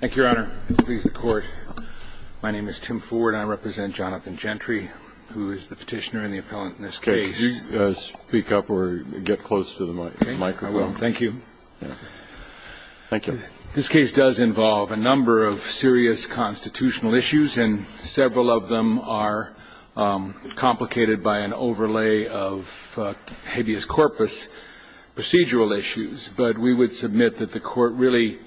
Thank you, Your Honor. Please, the Court. My name is Tim Ford. I represent Jonathan Gentry, who is the petitioner and the appellant in this case. Could you speak up or get close to the microphone? I will. Thank you. Thank you. This case does involve a number of serious constitutional issues, and several of them are complicated by an overlay of hideous corpus procedural issues. But we would submit that the Court really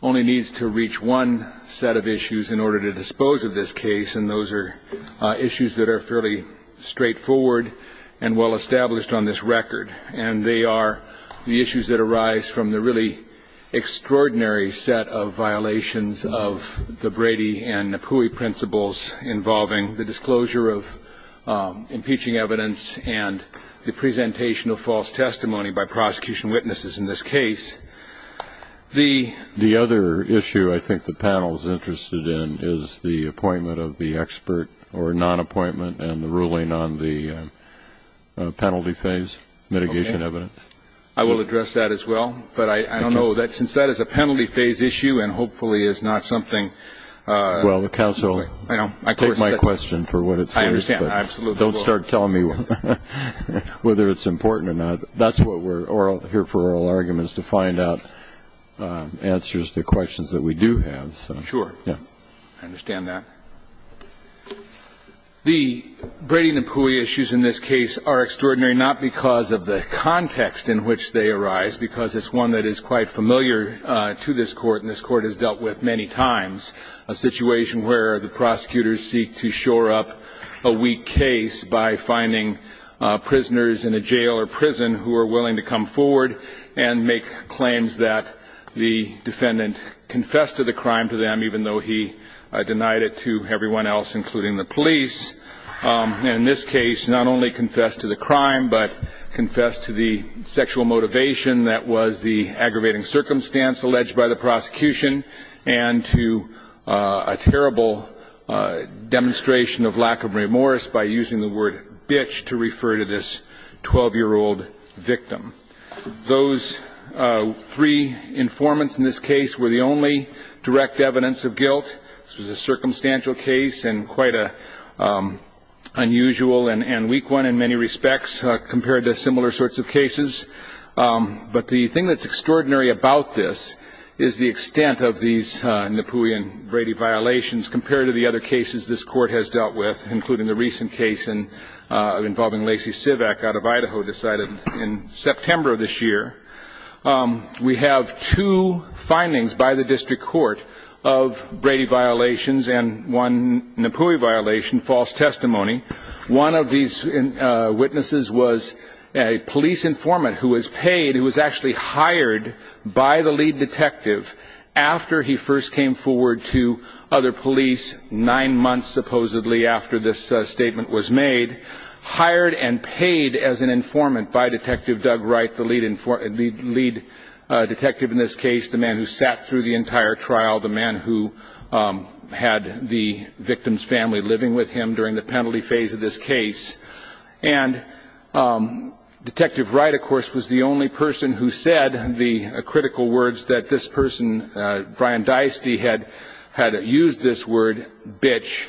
only needs to reach one set of issues in order to dispose of this case, and those are issues that are fairly straightforward and well-established on this record. And they are the issues that arise from the really extraordinary set of violations of the Brady and Napoui principles involving the disclosure of impeaching evidence and the presentation of false testimony by prosecution witnesses in this case. The other issue I think the panel is interested in is the appointment of the expert or non-appointment and the ruling on the penalty phase mitigation evidence. I will address that as well, but I don't know, since that is a penalty phase issue and hopefully is not something. Well, counsel, take my question for what it says. I understand. Absolutely. Don't start telling me whether it's important or not. That's what we're here for, oral arguments, to find out answers to questions that we do have. Sure. I understand that. The Brady-Napoui issues in this case are extraordinary not because of the context in which they arise, because it's one that is quite familiar to this court and this court has dealt with many times, a situation where the prosecutors seek to shore up a weak case by finding prisoners in a jail or prison who are willing to come forward and make claims that the defendant confessed to the crime to them, even though he denied it to everyone else, including the police. In this case, not only confessed to the crime, but confessed to the sexual motivation that was the aggravating circumstance alleged by the prosecution and to a terrible demonstration of lack of remorse by using the word bitch to refer to this 12-year-old victim. Those three informants in this case were the only direct evidence of guilt. This was a circumstantial case and quite an unusual and weak one in many respects compared to similar sorts of cases. But the thing that's extraordinary about this is the extent of these Napoui and Brady violations compared to the other cases this court has dealt with, including the recent case involving Lacey Sivak out of Idaho decided in September of this year. We have two findings by the district court of Brady violations and one Napoui violation, false testimony. One of these witnesses was a police informant who was paid, who was actually hired by the lead detective after he first came forward to other police, nine months supposedly after this statement was made, hired and paid as an informant by Detective Doug Wright, the lead detective in this case, the man who sat through the entire trial, the man who had the victim's family living with him during the penalty phase of this case. And Detective Wright, of course, was the only person who said the critical words that this person, Brian Deisty, had used this word, bitch,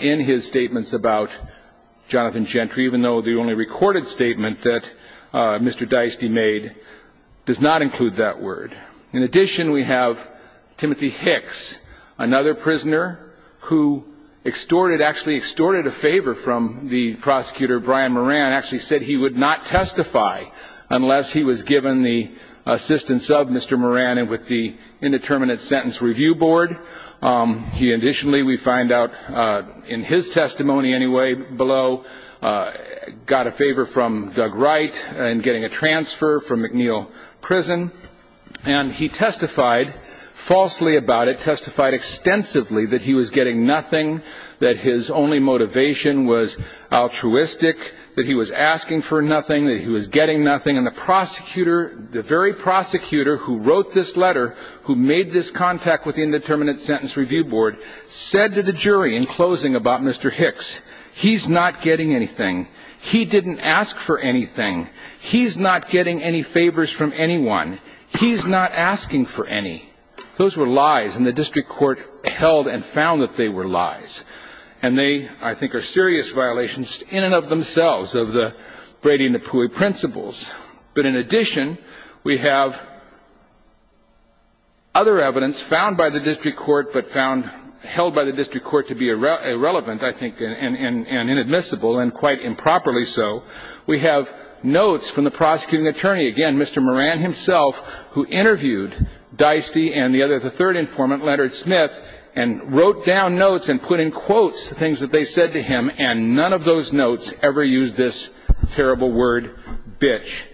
in his statements about Jonathan Gentry, even though the only recorded statement that Mr. Deisty made does not include that word. In addition, we have Timothy Hicks, another prisoner who extorted, actually extorted a favor from the prosecutor, Brian Moran, actually said he would not testify unless he was given the assistance of Mr. Moran and with the Indeterminate Sentence Review Board. He additionally, we find out in his testimony anyway below, got a favor from Doug Wright in getting a transfer from McNeil Prison. And he testified falsely about it, testified extensively that he was getting nothing, that his only motivation was altruistic, that he was asking for nothing, that he was getting nothing. And the prosecutor, the very prosecutor who wrote this letter, who made this contact with the Indeterminate Sentence Review Board, said to the jury in closing about Mr. Hicks, he's not getting anything. He didn't ask for anything. He's not getting any favors from anyone. He's not asking for any. Those were lies, and the district court held and found that they were lies. And they, I think, are serious violations in and of themselves of the Brady-Napoui principles. But in addition, we have other evidence found by the district court but held by the district court to be irrelevant, I think, and inadmissible, and quite improperly so. We have notes from the prosecuting attorney, again, Mr. Moran himself, who interviewed Deisty and the other, the third informant, Leonard Smith, and wrote down notes and put in quotes the things that they said to him, and none of those notes ever used this terrible word, bitch.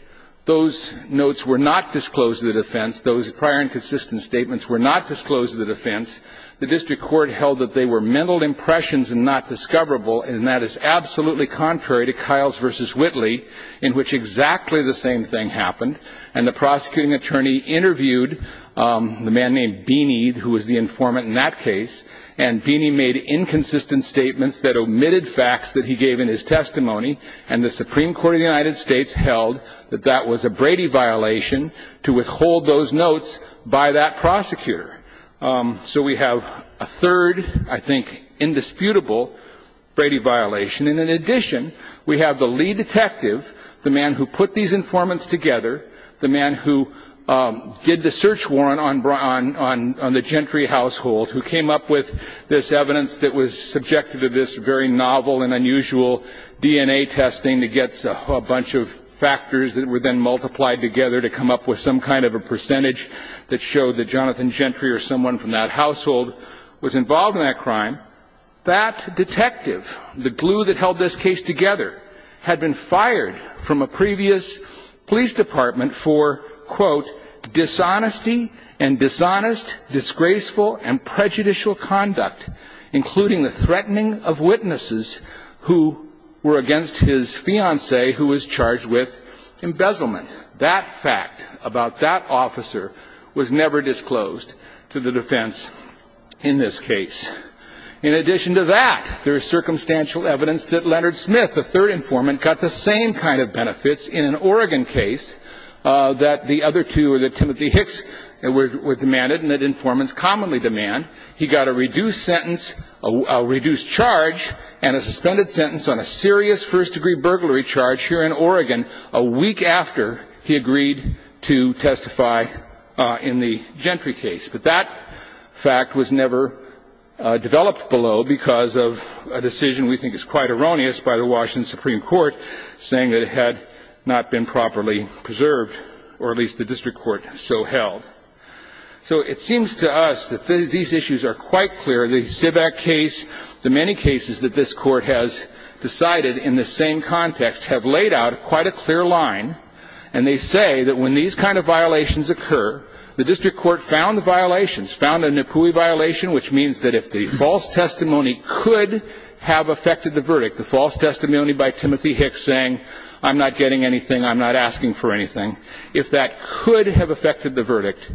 Those notes were not disclosed to the defense. Those prior and consistent statements were not disclosed to the defense. The district court held that they were mental impressions and not discoverable, and that is absolutely contrary to Kiles v. Whitley, in which exactly the same thing happened. And the prosecuting attorney interviewed the man named Beeney, who was the informant in that case, and Beeney made inconsistent statements that omitted facts that he gave in his testimony, and the Supreme Court of the United States held that that was a Brady violation to withhold those notes by that prosecutor. So we have a third, I think, indisputable Brady violation. And in addition, we have the lead detective, the man who put these informants together, the man who did the search warrant on the Gentry household, who came up with this evidence that was subjective to this very novel and unusual DNA testing to get a bunch of factors that were then multiplied together to come up with some kind of a percentage that showed that Jonathan Gentry or someone from that household was involved in that crime. That detective, the glue that held this case together, had been fired from a previous police department for, quote, dishonesty and dishonest, disgraceful, and prejudicial conduct, including the threatening of witnesses who were against his fiancée, who was charged with embezzlement. That fact about that officer was never disclosed to the defense in this case. In addition to that, there is circumstantial evidence that Leonard Smith, the third informant, got the same kind of benefits in an Oregon case that the other two or that Timothy Hicks were demanded and that informants commonly demand. He got a reduced sentence, a reduced charge, and a suspended sentence on a serious first-degree burglary charge here in Oregon a week after he agreed to testify in the Gentry case. But that fact was never developed below because of a decision we think is quite erroneous by the Washington Supreme Court saying that it had not been properly preserved, or at least the district court so held. So it seems to us that these issues are quite clear. The Zivak case, the many cases that this court has decided in the same context, have laid out quite a clear line, and they say that when these kind of violations occur, the district court found the violations, found a Nipuli violation, which means that if the false testimony could have affected the verdict, the false testimony by Timothy Hicks saying, I'm not getting anything, I'm not asking for anything, if that could have affected the verdict,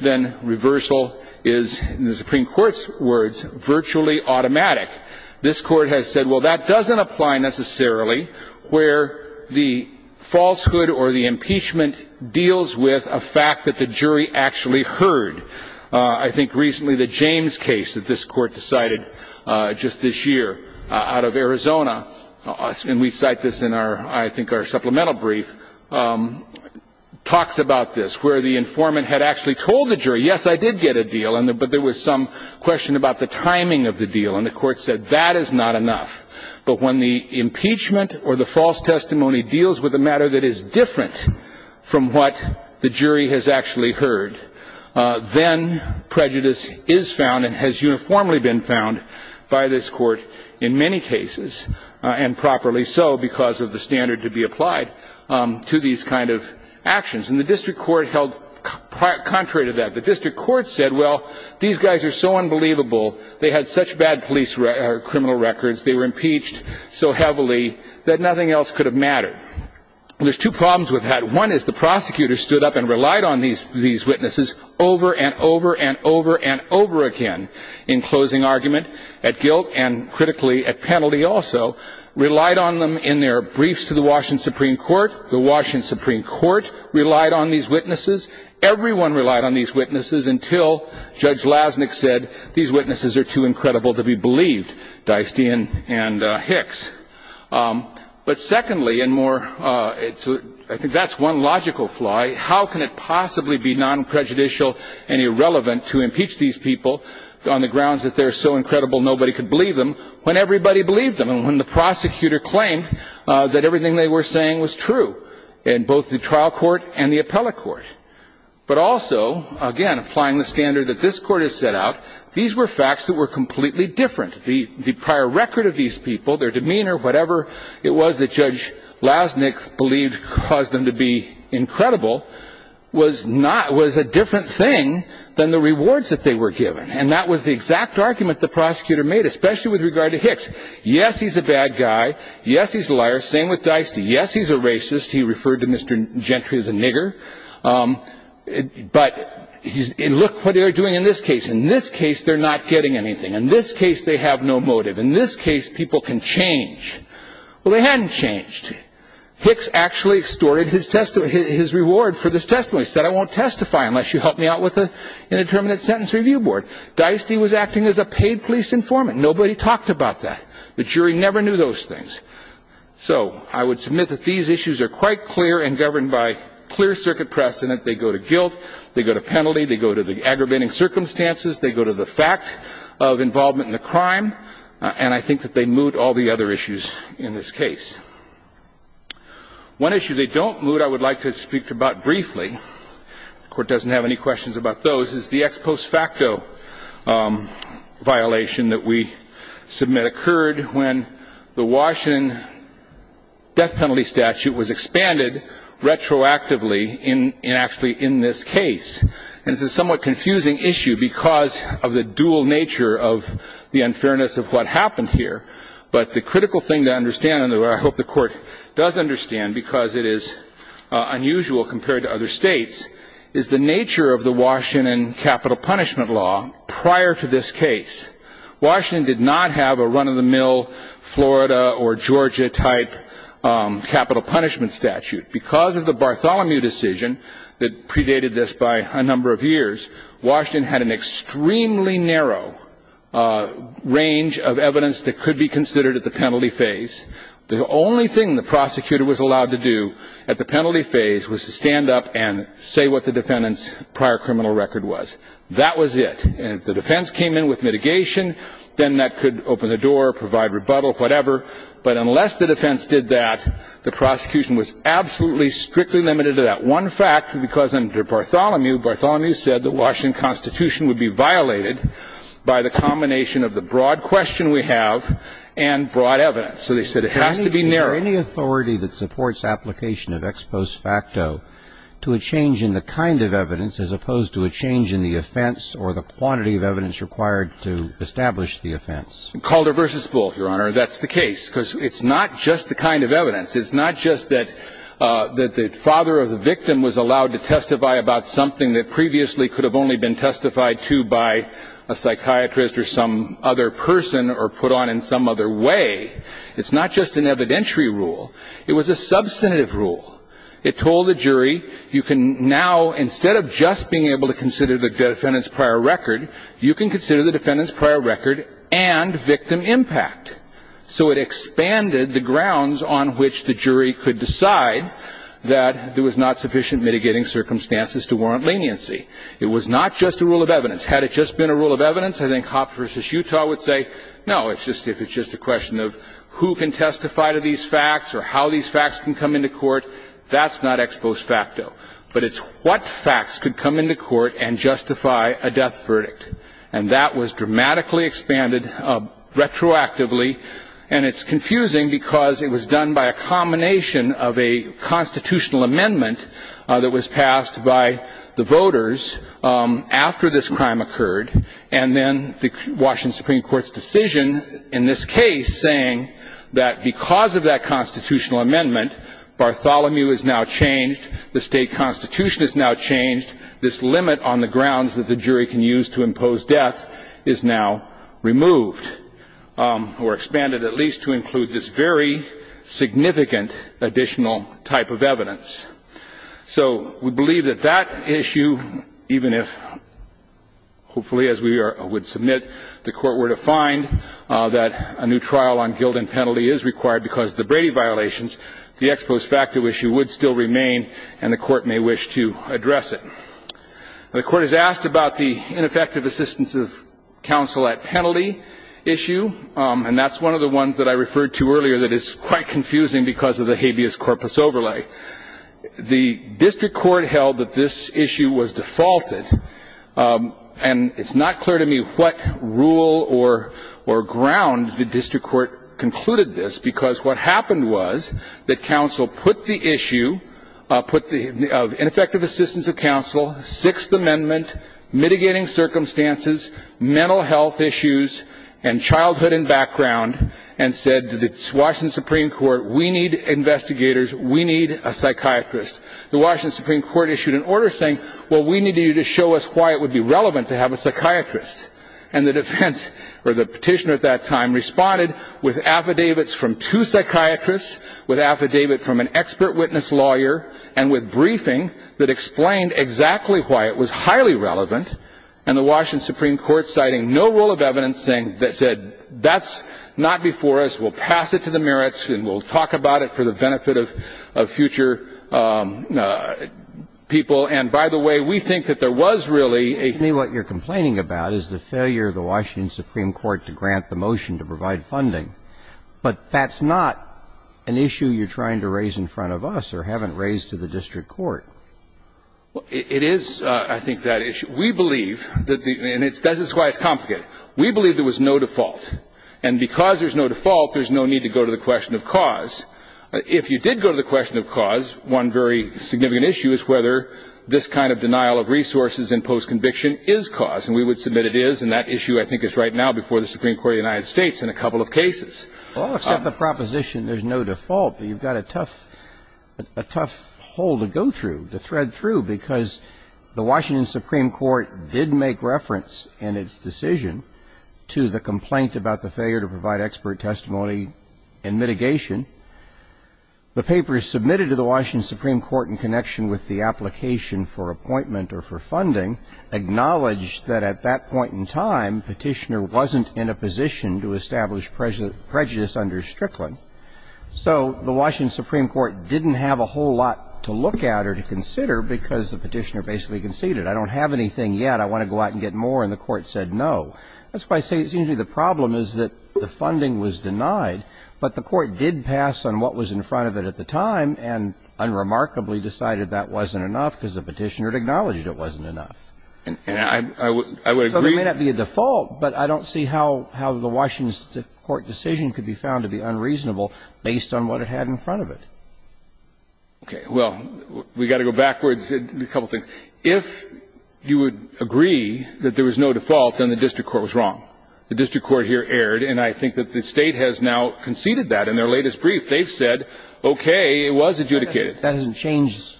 then reversal is, in the Supreme Court's words, virtually automatic. This court has said, well, that doesn't apply necessarily where the falsehood or the impeachment deals with a fact that the jury actually heard. I think recently the James case that this court decided just this year out of Arizona, and we cite this in, I think, our supplemental brief, talks about this, where the informant had actually told the jury, yes, I did get a deal, but there was some question about the timing of the deal, and the court said that is not enough. But when the impeachment or the false testimony deals with a matter that is different from what the jury has actually heard, then prejudice is found and has uniformly been found by this court in many cases, and properly so because of the standard to be applied to these kind of actions. And the district court held contrary to that. The district court said, well, these guys are so unbelievable. They had such bad police or criminal records. They were impeached so heavily that nothing else could have mattered. There's two problems with that. One is the prosecutor stood up and relied on these witnesses over and over and over and over again in closing argument at guilt and critically at penalty also, relied on them in their briefs to the Washington Supreme Court. The Washington Supreme Court relied on these witnesses. Everyone relied on these witnesses until Judge Lasnik said, these witnesses are too incredible to be believed, Deistian and Hicks. But secondly, and more, I think that's one logical flaw. How can it possibly be non-prejudicial and irrelevant to impeach these people on the grounds that they're so incredible nobody could believe them when everybody believed them and when the prosecutor claimed that everything they were saying was true in both the trial court and the appellate court. But also, again, applying the standard that this court has set out, these were facts that were completely different. The prior record of these people, their demeanor, whatever it was that Judge Lasnik believed caused them to be incredible, was a different thing than the rewards that they were given. And that was the exact argument the prosecutor made, especially with regard to Hicks. Yes, he's a bad guy. Yes, he's a liar. Same with Deistian. Yes, he's a racist. He referred to Mr. Gentry as a nigger. But look what they're doing in this case. In this case, they're not getting anything. In this case, they have no motive. In this case, people can change. Well, they hadn't changed. Hicks actually extorted his reward for this testimony. He said, I won't testify unless you help me out with an indeterminate sentence review board. Deistian was acting as a paid police informant. Nobody talked about that. The jury never knew those things. So I would submit that these issues are quite clear and governed by clear circuit precedent. They go to guilt. They go to penalty. They go to the aggravating circumstances. They go to the fact of involvement in the crime. And I think that they moot all the other issues in this case. One issue they don't moot, I would like to speak about briefly. The Court doesn't have any questions about those. This is the ex post facto violation that we submit occurred when the Washington death penalty statute was expanded retroactively, and actually in this case. This is a somewhat confusing issue because of the dual nature of the unfairness of what happened here. But the critical thing to understand, and I hope the Court does understand because it is unusual compared to other states, is the nature of the Washington capital punishment law prior to this case. Washington did not have a run-of-the-mill Florida or Georgia type capital punishment statute. Because of the Bartholomew decision that predated this by a number of years, Washington had an extremely narrow range of evidence that could be considered at the penalty phase. The only thing the prosecutor was allowed to do at the penalty phase was to stand up and say what the defendant's prior criminal record was. That was it. And if the defense came in with mitigation, then that could open the door, provide rebuttal, whatever. But unless the defense did that, the prosecution was absolutely strictly limited to that one fact because under Bartholomew, Bartholomew said the Washington Constitution would be violated by the combination of the broad question we have and broad evidence. So they said it has to be narrow. Is there any authority that supports application of ex post facto to a change in the kind of evidence as opposed to a change in the offense or the quantity of evidence required to establish the offense? Calder v. Bull, Your Honor, that's the case because it's not just the kind of evidence. It's not just that the father of the victim was allowed to testify about something that previously could have only been testified to by a psychiatrist or some other person or put on in some other way. It's not just an evidentiary rule. It was a substantive rule. It told the jury you can now, instead of just being able to consider the defendant's prior record, you can consider the defendant's prior record and victim impact. So it expanded the grounds on which the jury could decide that there was not sufficient mitigating circumstances It was not just a rule of evidence. Had it just been a rule of evidence, I think Hoff v. Utah would say, no, it's just a question of who can testify to these facts or how these facts can come into court. That's not ex post facto. But it's what facts could come into court and justify a death verdict. And that was dramatically expanded retroactively, and it's confusing because it was done by a combination of a constitutional amendment that was passed by the voters after this crime occurred and then the Washington Supreme Court's decision in this case saying that because of that constitutional amendment, Bartholomew is now changed, the state constitution is now changed, this limit on the grounds that the jury can use to impose death is now removed or expanded at least to include this very significant additional type of evidence. So we believe that that issue, even if, hopefully as we would submit, the court were to find that a new trial on guilt and penalty is required because of the Brady violations, the ex post facto issue would still remain and the court may wish to address it. The court has asked about the ineffective assistance of counsel at penalty issue, and that's one of the ones that I referred to earlier that is quite confusing because of the habeas corpus overlay. The district court held that this issue was defaulted, and it's not clear to me what rule or ground the district court concluded this because what happened was that counsel put the issue of ineffective assistance of counsel, Sixth Amendment, mitigating circumstances, mental health issues, and childhood and background, and said to the Washington Supreme Court, we need investigators, we need a psychiatrist. The Washington Supreme Court issued an order saying, well, we need you to show us why it would be relevant to have a psychiatrist. And the defense, or the petitioner at that time, responded with affidavits from two psychiatrists, with affidavit from an expert witness lawyer, and with briefing that explained exactly why it was highly relevant, and the Washington Supreme Court citing no rule of evidence that said that's not before us, we'll pass it to the merits and we'll talk about it for the benefit of future people. And, by the way, we think that there was really a... What you're complaining about is the failure of the Washington Supreme Court to grant the motion to provide funding, but that's not an issue you're trying to raise in front of us or haven't raised to the district court. It is, I think, that issue. We believe, and this is why it's complicated, we believe there was no default, and because there's no default, there's no need to go to the question of cause. If you did go to the question of cause, one very significant issue is whether this kind of denial of resources in post-conviction is cause, and we would submit it is, and that issue, I think, is right now before the Supreme Court of the United States in a couple of cases. Well, except the proposition there's no default, you've got a tough hole to go through, to thread through, because the Washington Supreme Court did make reference in its decision to the complaint about the failure to provide expert testimony in mitigation. The paper submitted to the Washington Supreme Court in connection with the application for appointment or for funding acknowledged that at that point in time, Petitioner wasn't in a position to establish prejudice under Strickland. So the Washington Supreme Court didn't have a whole lot to look at or to consider, because the Petitioner basically conceded, I don't have anything yet, I want to go out and get more, and the court said no. That's why I say it seems to me the problem is that the funding was denied, but the court did pass on what was in front of it at the time, and unremarkably decided that wasn't enough because the Petitioner had acknowledged it wasn't enough. And I would agree... So there may not be a default, but I don't see how the Washington court decision could be found to be unreasonable based on what it had in front of it. Okay, well, we've got to go backwards a couple of things. If you would agree that there was no default, then the district court was wrong. The district court here erred, and I think that the state has now conceded that in their latest brief. They've said, okay, it was adjudicated. That hasn't changed.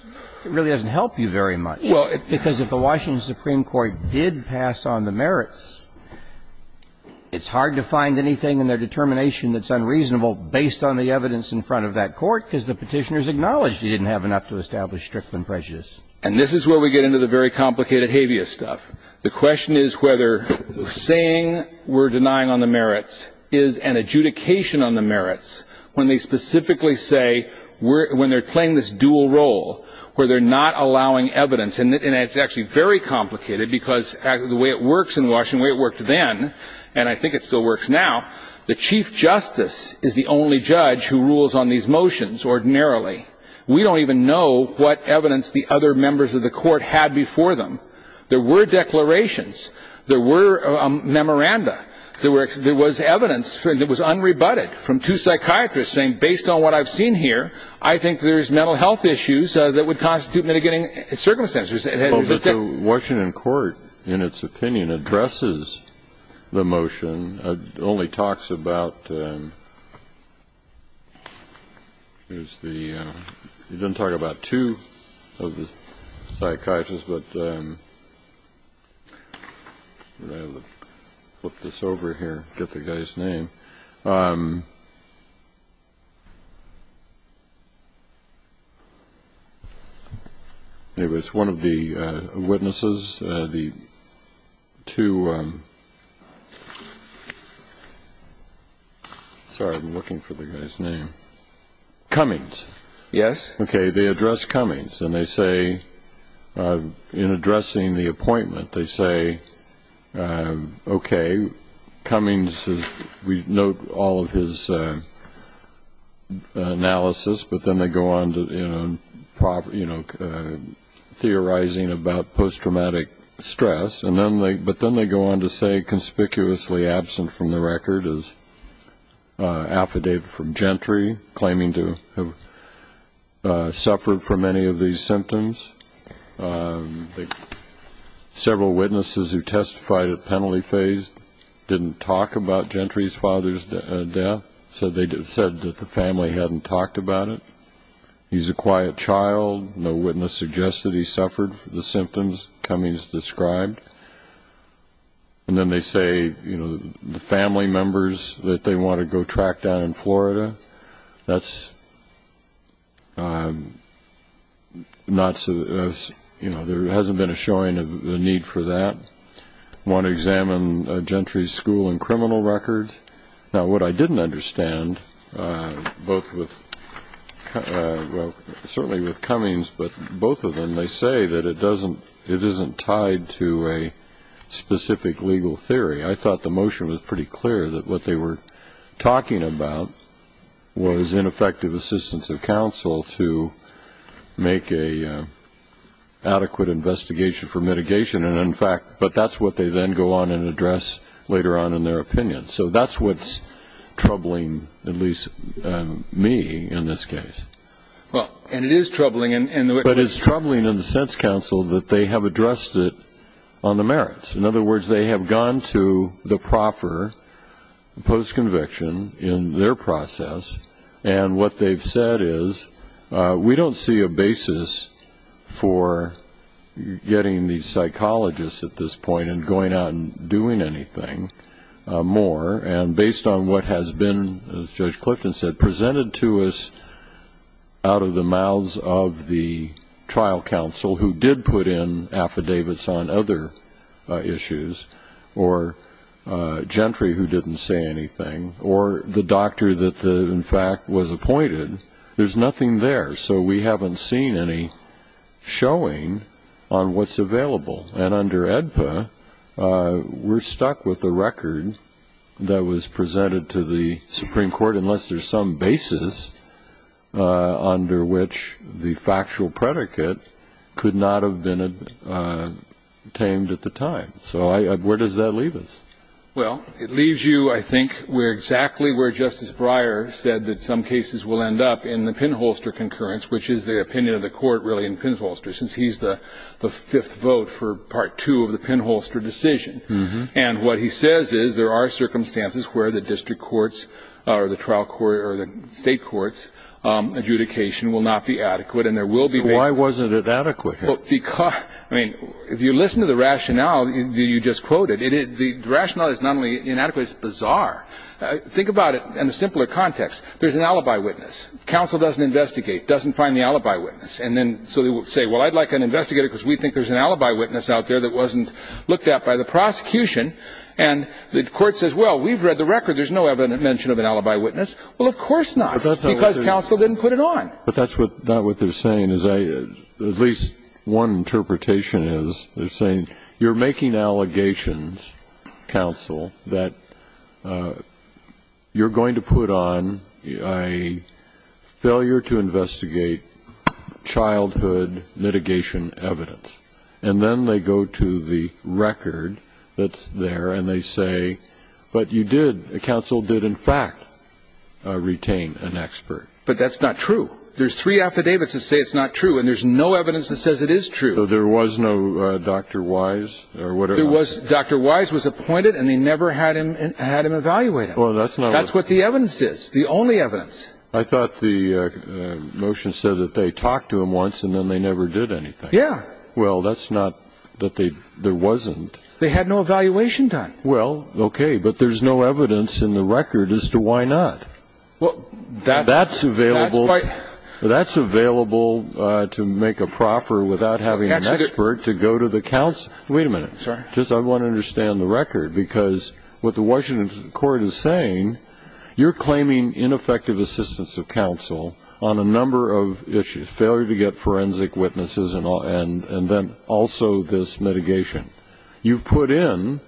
It really hasn't helped you very much. Because if the Washington Supreme Court did pass on the merits, it's hard to find anything in their determination that's unreasonable based on the evidence in front of that court because the Petitioner's acknowledged he didn't have enough to establish Strickland prejudice. And this is where we get into the very complicated habeas stuff. The question is whether saying we're denying on the merits is an adjudication on the merits when they specifically say when they're playing this dual role where they're not allowing evidence. And it's actually very complicated because the way it works in Washington, the way it worked then, and I think it still works now, the chief justice is the only judge who rules on these motions ordinarily. We don't even know what evidence the other members of the court had before them. There were declarations. There were memoranda. There was evidence that was unrebutted from two psychiatrists saying based on what I've seen here, I think there's mental health issues that would constitute mitigating circumstances. The Washington court, in its opinion, addresses the motion. It only talks about the ‑‑ it doesn't talk about two of the psychiatrists, but I'll flip this over here, get the guy's name. It was one of the witnesses, the two ‑‑ sorry, I'm looking for the guy's name. Cummings. Yes. Okay. They address Cummings, and they say in addressing the appointment, they say, okay, Cummings, we note all of his analysis, but then they go on to theorizing about posttraumatic stress, but then they go on to say conspicuously absent from the record is affidavit from Gentry claiming to have suffered from any of these symptoms. Several witnesses who testified at penalty phase didn't talk about Gentry's father's death, so they said that the family hadn't talked about it. He's a quiet child. No witness suggested he suffered from the symptoms Cummings described. And then they say, you know, the family members that they want to go track down in Florida, that's not ‑‑ you know, there hasn't been a showing of the need for that. Want to examine Gentry's school and criminal records. Now, what I didn't understand, both with ‑‑ well, certainly with Cummings, but both of them, when they say that it doesn't ‑‑ it isn't tied to a specific legal theory, I thought the motion was pretty clear that what they were talking about was ineffective assistance of counsel to make an adequate investigation for mitigation, and in fact, but that's what they then go on and address later on in their opinion. So that's what's troubling at least me in this case. Well, and it is troubling. But it's troubling in the sense, counsel, that they have addressed it on the merits. In other words, they have gone to the proper postconviction in their process, and what they've said is we don't see a basis for getting these psychologists at this point and going out and doing anything more, and based on what has been, as Judge Clifton said, presented to us out of the mouths of the trial counsel who did put in affidavits on other issues or Gentry who didn't say anything or the doctor that in fact was appointed, there's nothing there. So we haven't seen any showing on what's available. And under AEDPA, we're stuck with a record that was presented to the Supreme Court, unless there's some basis under which the factual predicate could not have been obtained at the time. So where does that leave us? Well, it leaves you, I think, where exactly where Justice Breyer said that some cases will end up in the pinholster concurrence, which is the opinion of the court really in pinholster, since he's the fifth vote for Part 2 of the pinholster decision. And what he says is there are circumstances where the district courts or the trial court or the state courts' adjudication will not be adequate. Why wasn't it adequate? If you listen to the rationale you just quoted, the rationale is not only inadequate, it's bizarre. Think about it in a simpler context. There's an alibi witness. Counsel doesn't investigate, doesn't find the alibi witness. So they say, well, I'd like an investigator because we think there's an alibi witness out there that wasn't looked at by the prosecution. And the court says, well, we've read the record. There's no mention of an alibi witness. Well, of course not, because counsel didn't put it on. But that's not what they're saying. At least one interpretation is they're saying you're making allegations, counsel, that you're going to put on a failure to investigate childhood mitigation evidence. And then they go to the record that's there, and they say, but you did, counsel did in fact retain an expert. But that's not true. There's three affidavits that say it's not true, and there's no evidence that says it is true. So there was no Dr. Wise? Dr. Wise was appointed, and they never had him evaluated. That's what the evidence is, the only evidence. I thought the motion said that they talked to him once, and then they never did anything. Well, that's not that there wasn't. They had no evaluation done. Well, okay, but there's no evidence in the record as to why not. That's available to make a proffer without having an expert to go to the counsel. Wait a minute. I want to understand the record, because what the Washington court is saying, you're claiming ineffective assistance of counsel on a number of issues, a failure to get forensic witnesses, and then also this mitigation. You put in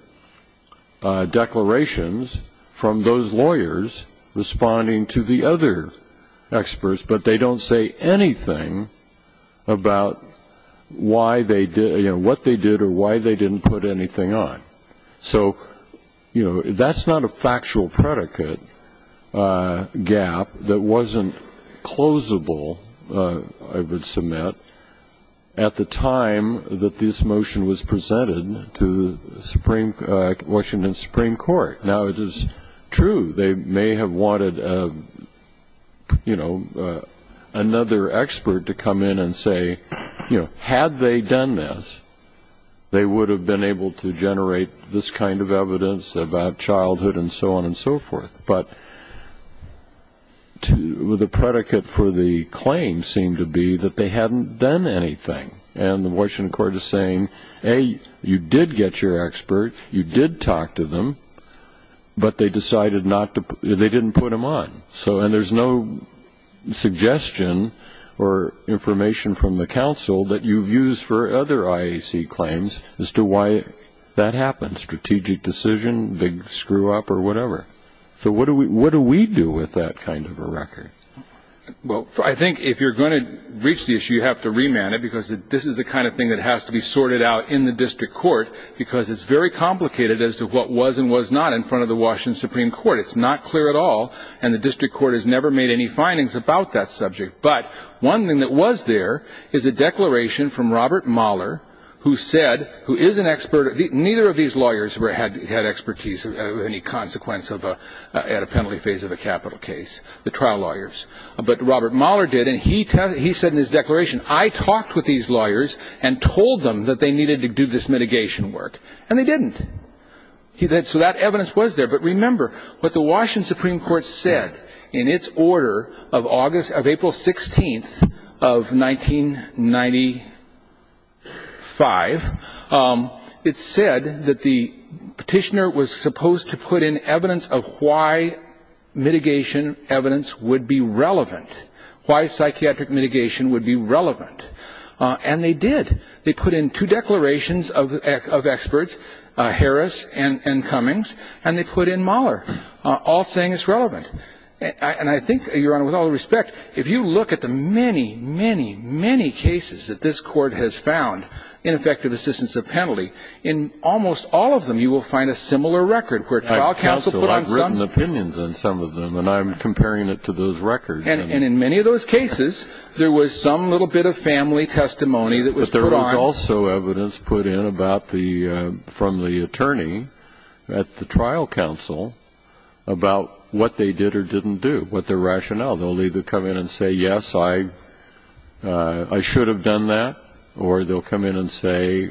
declarations from those lawyers responding to the other experts, but they don't say anything about what they did or why they didn't put anything on. So, you know, that's not a factual predicate gap that wasn't closable, I would submit, at the time that this motion was presented to the Washington Supreme Court. Now, it is true they may have wanted, you know, another expert to come in and say, you know, had they done this, they would have been able to generate this kind of evidence about childhood and so on and so forth. But the predicate for the claim seemed to be that they hadn't done anything, and the Washington court is saying, A, you did get your expert, you did talk to them, but they didn't put them on. And there's no suggestion or information from the counsel that you've used for other IAC claims as to why that happened, strategic decision, big screw-up or whatever. So what do we do with that kind of a record? Well, I think if you're going to reach the issue, you have to remand it, because this is the kind of thing that has to be sorted out in the district court, because it's very complicated as to what was and was not in front of the Washington Supreme Court. It's not clear at all, and the district court has never made any findings about that subject. But one thing that was there is a declaration from Robert Mahler, who said, who is an expert. Neither of these lawyers had expertise or any consequence at a penalty phase of a capital case, the trial lawyers, but Robert Mahler did, and he said in his declaration, I talked with these lawyers and told them that they needed to do this mitigation work, and they didn't. So that evidence was there, but remember what the Washington Supreme Court said in its order of April 16th of 1995. It said that the petitioner was supposed to put in evidence of why mitigation evidence would be relevant, why psychiatric mitigation would be relevant, and they did. They put in two declarations of experts, Harris and Cummings, and they put in Mahler, all saying it's relevant. And I think, Your Honor, with all due respect, if you look at the many, many, many cases that this court has found in effective assistance of penalty, in almost all of them you will find a similar record. Counsel, I've written opinions on some of them, and I'm comparing it to those records. And in many of those cases, there was some little bit of family testimony that was provided. But there was also evidence put in from the attorney at the trial counsel about what they did or didn't do, what their rationale. They'll either come in and say, yes, I should have done that, or they'll come in and say,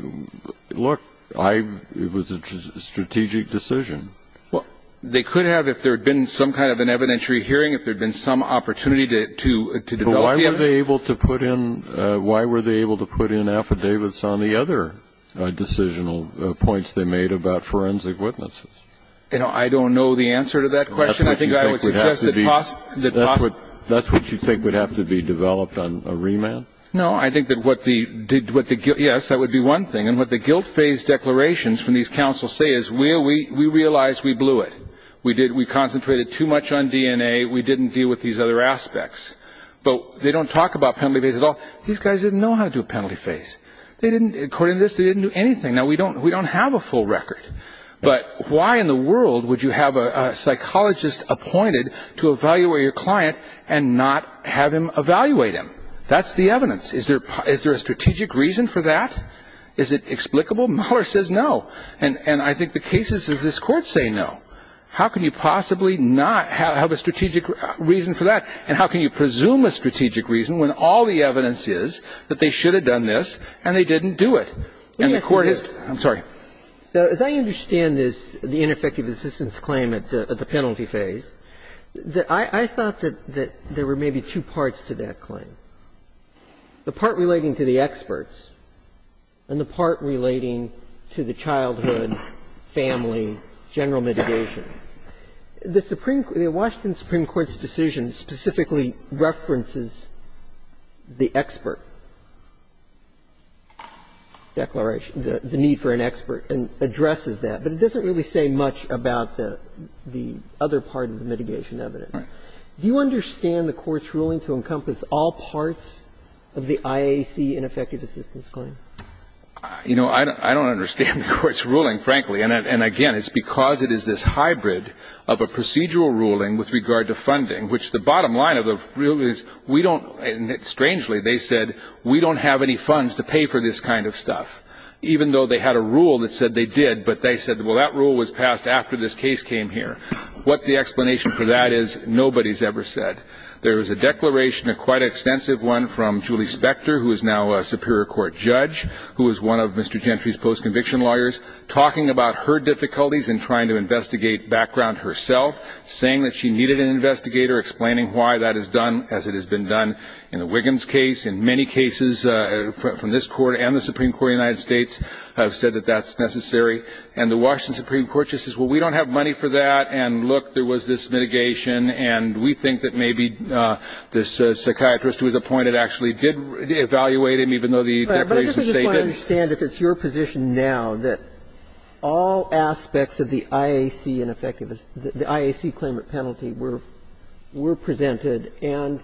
look, it was a strategic decision. They could have, if there had been some kind of an evidentiary hearing, if there had been some opportunity to develop it. Why were they able to put in affidavits on the other decisional points they made about forensic witnesses? I don't know the answer to that question. That's what you think would have to be developed on remand? No, I think that what the guilt phase declarations from these counsels say is, we realized we blew it. We concentrated too much on DNA. We didn't deal with these other aspects. But they don't talk about penalty phase at all. These guys didn't know how to do a penalty phase. According to this, they didn't do anything. Now, we don't have a full record. But why in the world would you have a psychologist appointed to evaluate your client and not have him evaluate him? That's the evidence. Is there a strategic reason for that? Is it explicable? Mueller says no. And I think the cases of this Court say no. How can you possibly not have a strategic reason for that? And how can you presume a strategic reason when all the evidence is that they should have done this and they didn't do it? I'm sorry. As I understand this, the ineffective assistance claim at the penalty phase, the part relating to the experts and the part relating to the childhood, family, general mitigation, the Washington Supreme Court's decision specifically references the expert declaration, the need for an expert, and addresses that. But it doesn't really say much about the other part of the mitigation evidence. Do you understand the Court's ruling to encompass all parts of the IAC ineffective assistance claim? You know, I don't understand the Court's ruling, frankly. And, again, it's because it is this hybrid of a procedural ruling with regard to funding, which the bottom line of the rule is we don't, and strangely they said, we don't have any funds to pay for this kind of stuff, even though they had a rule that said they did. But they said, well, that rule was passed after this case came here. What the explanation for that is nobody's ever said. There is a declaration, a quite extensive one, from Julie Spector, who is now a Superior Court judge, who is one of Mr. Gentry's post-conviction lawyers, talking about her difficulties in trying to investigate background herself, saying that she needed an investigator, explaining why that is done as it has been done in the Wiggins case. In many cases from this Court and the Supreme Court of the United States have said that that's necessary. And the Washington Supreme Court just says, well, we don't have money for that. And, look, there was this mitigation, and we think that maybe this psychiatrist who was appointed actually did evaluate him, even though the declaration states that. But I just want to understand, if it's your position now, that all aspects of the IAC claimant penalty were presented and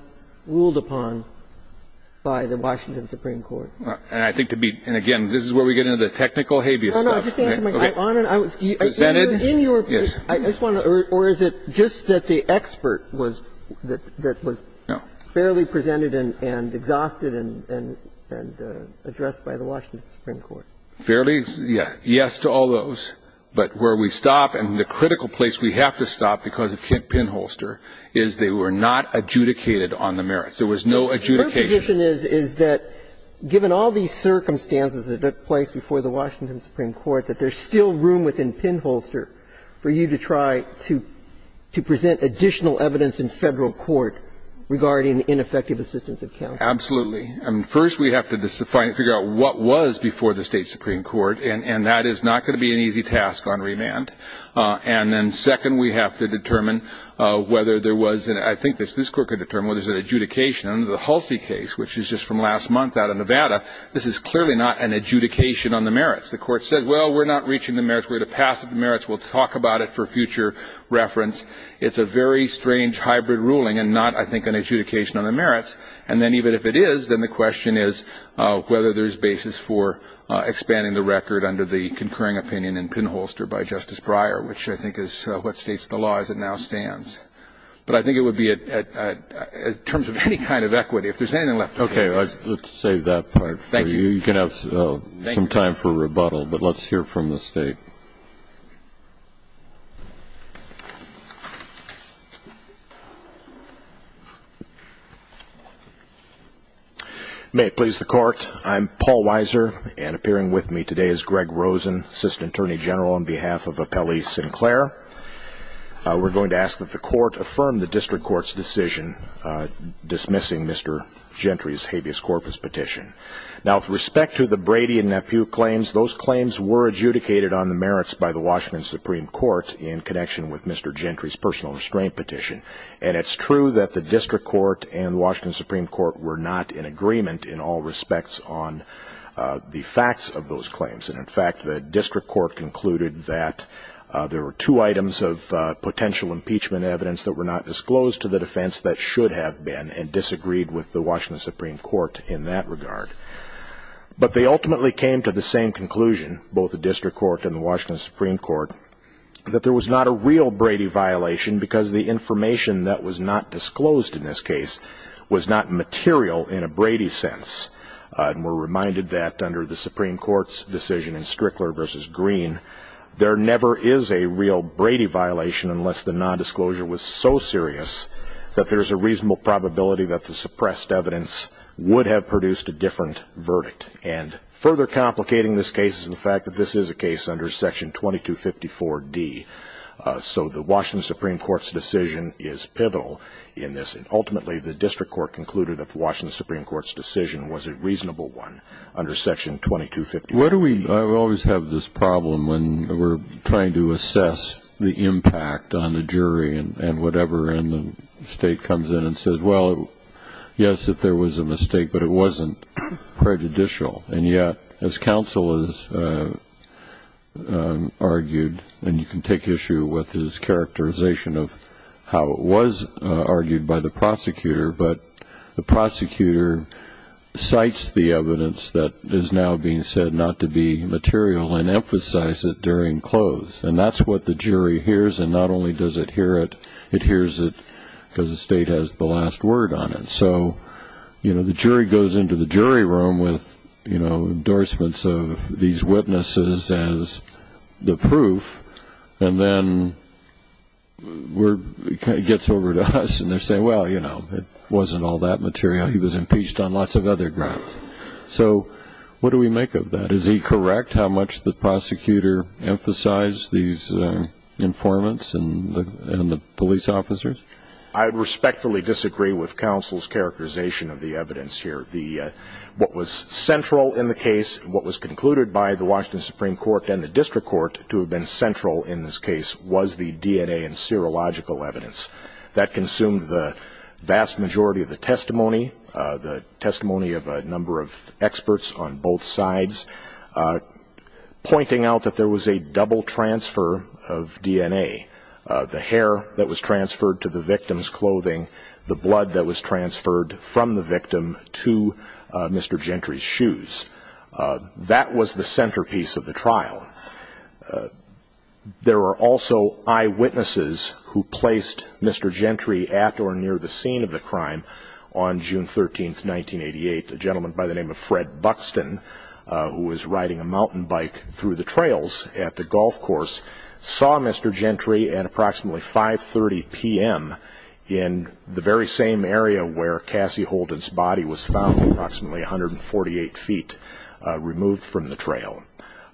ruled upon by the Washington Supreme Court? And, again, this is where we get into the technical habeas stuff. Or is it just that the expert was fairly presented and exhausted and addressed by the Washington Supreme Court? Fairly, yes, to all those. But where we stop, and the critical place we have to stop because of pinholster, is they were not adjudicated on the merits. There was no adjudication. My position is that, given all these circumstances that took place before the Washington Supreme Court, that there's still room within pinholster for you to try to present additional evidence in federal court regarding ineffective assistance of counsel. Absolutely. First, we have to figure out what was before the state Supreme Court, and that is not going to be an easy task on remand. And then, second, we have to determine whether there was, and I think this court can determine whether there was an adjudication under the Halsey case, which is just from last month out of Nevada. This is clearly not an adjudication on the merits. The court said, well, we're not reaching the merits. We're at a passive merits. We'll talk about it for future reference. It's a very strange hybrid ruling and not, I think, an adjudication on the merits. And then, even if it is, then the question is whether there's basis for expanding the record under the concurring opinion in pinholster by Justice Breyer, which I think is what states the law as it now stands. But I think it would be, in terms of any kind of equity, if there's anything left. Okay. Let's save that part for you. You can have some time for rebuttal, but let's hear from the state. May it please the Court, I'm Paul Weiser, and appearing with me today is Greg Rosen, Assistant Attorney General on behalf of Appellee Sinclair. We're going to ask that the Court affirm the district court's decision dismissing Mr. Gentry's habeas corpus petition. Now, with respect to the Brady and Nephew claims, those claims were adjudicated on the merits by the Washington Supreme Court in connection with Mr. Gentry's personal restraint petition. And it's true that the district court and Washington Supreme Court were not in agreement in all respects on the facts of those claims. And, in fact, the district court concluded that there were two items of potential impeachment evidence that were not disclosed to the defense that should have been and disagreed with the Washington Supreme Court in that regard. But they ultimately came to the same conclusion, both the district court and the Washington Supreme Court, that there was not a real Brady violation because the information that was not disclosed in this case was not material in a Brady sense. And we're reminded that under the Supreme Court's decision in Strickler v. Green, there never is a real Brady violation unless the nondisclosure was so serious that there's a reasonable probability that the suppressed evidence would have produced a different verdict. And further complicating this case is the fact that this is a case under Section 2254D. So the Washington Supreme Court's decision is pivotal in this. Ultimately, the district court concluded that the Washington Supreme Court's decision was a reasonable one under Section 2254. I always have this problem when we're trying to assess the impact on the jury and whatever, and the state comes in and says, well, yes, if there was a mistake, but it wasn't prejudicial. And yet, as counsel has argued, and you can take issue with his characterization of how it was argued by the prosecutor, but the prosecutor cites the evidence that is now being said not to be material and emphasizes it during close. And that's what the jury hears, and not only does it hear it, it hears it because the state has the last word on it. And so the jury goes into the jury room with endorsements of these witnesses as the proof, and then it gets over to us and they say, well, you know, it wasn't all that material. He was impeached on lots of other grounds. So what do we make of that? Is he correct how much the prosecutor emphasized these informants and the police officers? I respectfully disagree with counsel's characterization of the evidence here. What was central in the case, what was concluded by the Washington Supreme Court and the district court to have been central in this case was the DNA and serological evidence. That consumed the vast majority of the testimony, the testimony of a number of experts on both sides, pointing out that there was a double transfer of DNA, the hair that was transferred to the victim's clothing, the blood that was transferred from the victim to Mr. Gentry's shoes. That was the centerpiece of the trial. There were also eyewitnesses who placed Mr. Gentry at or near the scene of the crime on June 13, 1988, a gentleman by the name of Fred Buxton, who was riding a mountain bike through the trails at the golf course, saw Mr. Gentry at approximately 5.30 p.m. in the very same area where Cassie Holden's body was found, approximately 148 feet removed from the trail.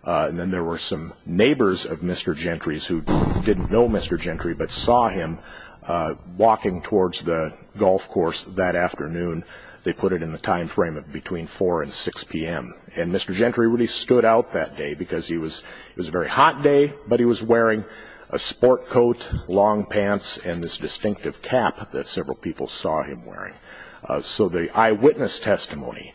And then there were some neighbors of Mr. Gentry's who didn't know Mr. Gentry but saw him walking towards the golf course that afternoon. They put it in the time frame of between 4 and 6 p.m. And Mr. Gentry really stood out that day because it was a very hot day, but he was wearing a sport coat, long pants, and this distinctive cap that several people saw him wearing. So the eyewitness testimony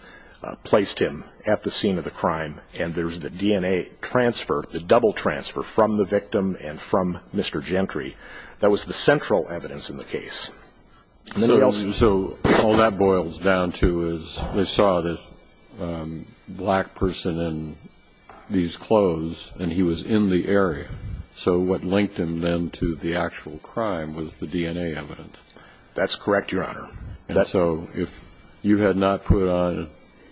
placed him at the scene of the crime, and there was the DNA transfer, the double transfer from the victim and from Mr. Gentry. That was the central evidence in the case. So all that boils down to is they saw this black person in these clothes, and he was in the area. So what linked him then to the actual crime was the DNA evidence. That's correct, Your Honor. So if you had not put on, if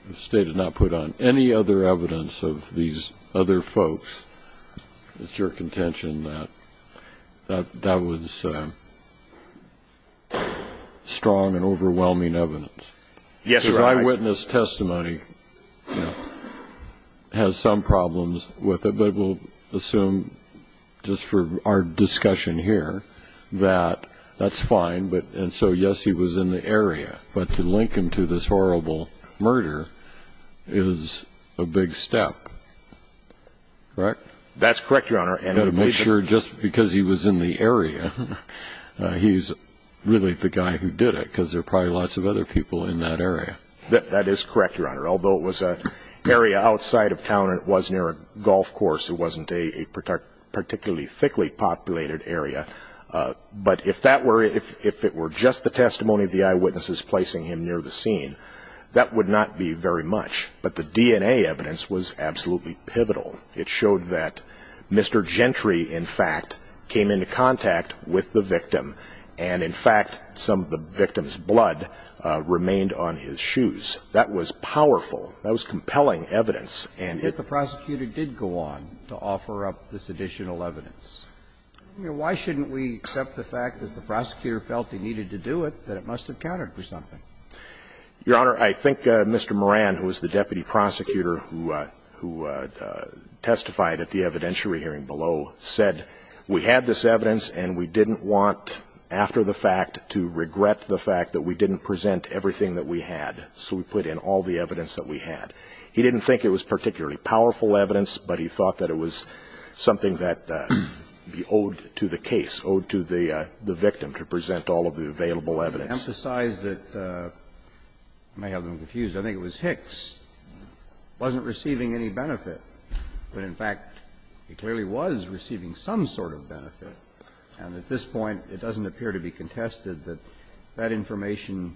the State had not put on any other evidence of these other folks, it's your contention that that was strong and overwhelming evidence. Yes, Your Honor. The eyewitness testimony has some problems with it, but we'll assume just for our discussion here that that's fine, and so, yes, he was in the area. But to link him to this horrible murder is a big step, correct? That's correct, Your Honor. And to make sure just because he was in the area, he's really the guy who did it because there are probably lots of other people in that area. That is correct, Your Honor. Although it was an area outside of town and it was near a golf course, it wasn't a particularly thickly populated area. But if it were just the testimony of the eyewitnesses placing him near the scene, that would not be very much. But the DNA evidence was absolutely pivotal. It showed that Mr. Gentry, in fact, came into contact with the victim, and, in fact, some of the victim's blood remained on his shoes. That was powerful. That was compelling evidence. If the prosecutor did go on to offer up this additional evidence, why shouldn't we accept the fact that the prosecutor felt he needed to do it, that it must have counted for something? Your Honor, I think Mr. Moran, who was the deputy prosecutor who testified at the evidentiary hearing below, said we had this evidence and we didn't want, after the fact, to regret the fact that we didn't present everything that we had, so we put in all the evidence that we had. He didn't think it was particularly powerful evidence, but he thought that it was something that owed to the case, owed to the victim, to present all of the available evidence. To emphasize that, I may have been confused, I think it was Hicks wasn't receiving any benefit, but, in fact, he clearly was receiving some sort of benefit, and at this point it doesn't appear to be contested that that information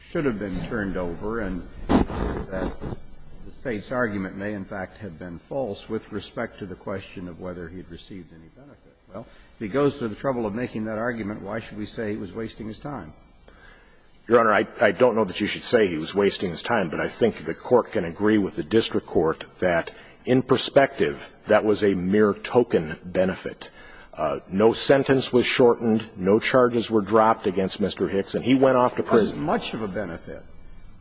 should have been turned over and that the State's argument may, in fact, have been false with respect to the question of whether he had received any benefit. Well, he goes to the trouble of making that argument, why should we say he was wasting his time? Your Honor, I don't know that you should say he was wasting his time, but I think the Court can agree with the District Court that, in perspective, that was a mere token benefit. No sentence was shortened, no charges were dropped against Mr. Hicks, and he went off to prison. This is much of a benefit,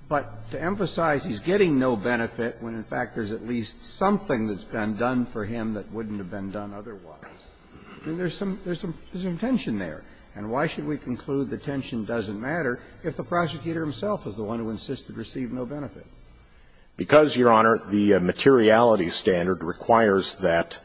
but to emphasize he's getting no benefit when, in fact, there's at least something that's been done for him that wouldn't have been done otherwise. There's some tension there, and why should we conclude the tension doesn't matter if the prosecutor himself is the one who insists he received no benefit? Because, Your Honor, the materiality standard requires that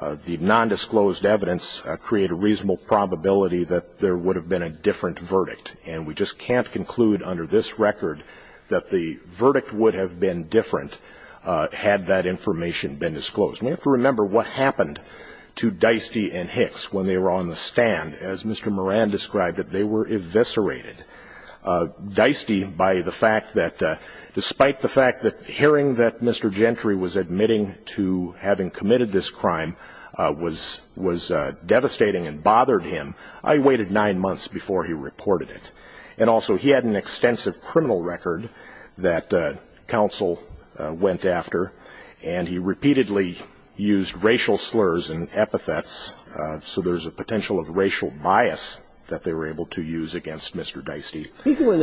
the nondisclosed evidence create a reasonable probability that there would have been a different verdict, and we just can't conclude under this record that the verdict would have been different had that information been disclosed. We have to remember what happened to Dieste and Hicks when they were on the stand. As Mr. Moran described it, they were eviscerated. Dieste, despite the fact that hearing that Mr. Gentry was admitting to having committed this crime was devastating and bothered him, I waited nine months before he reported it, and also he had an extensive criminal record that counsel went after, and he repeatedly used racial slurs and epithets, so there's a potential of racial bias that they were able to use against Mr. Dieste. He's the one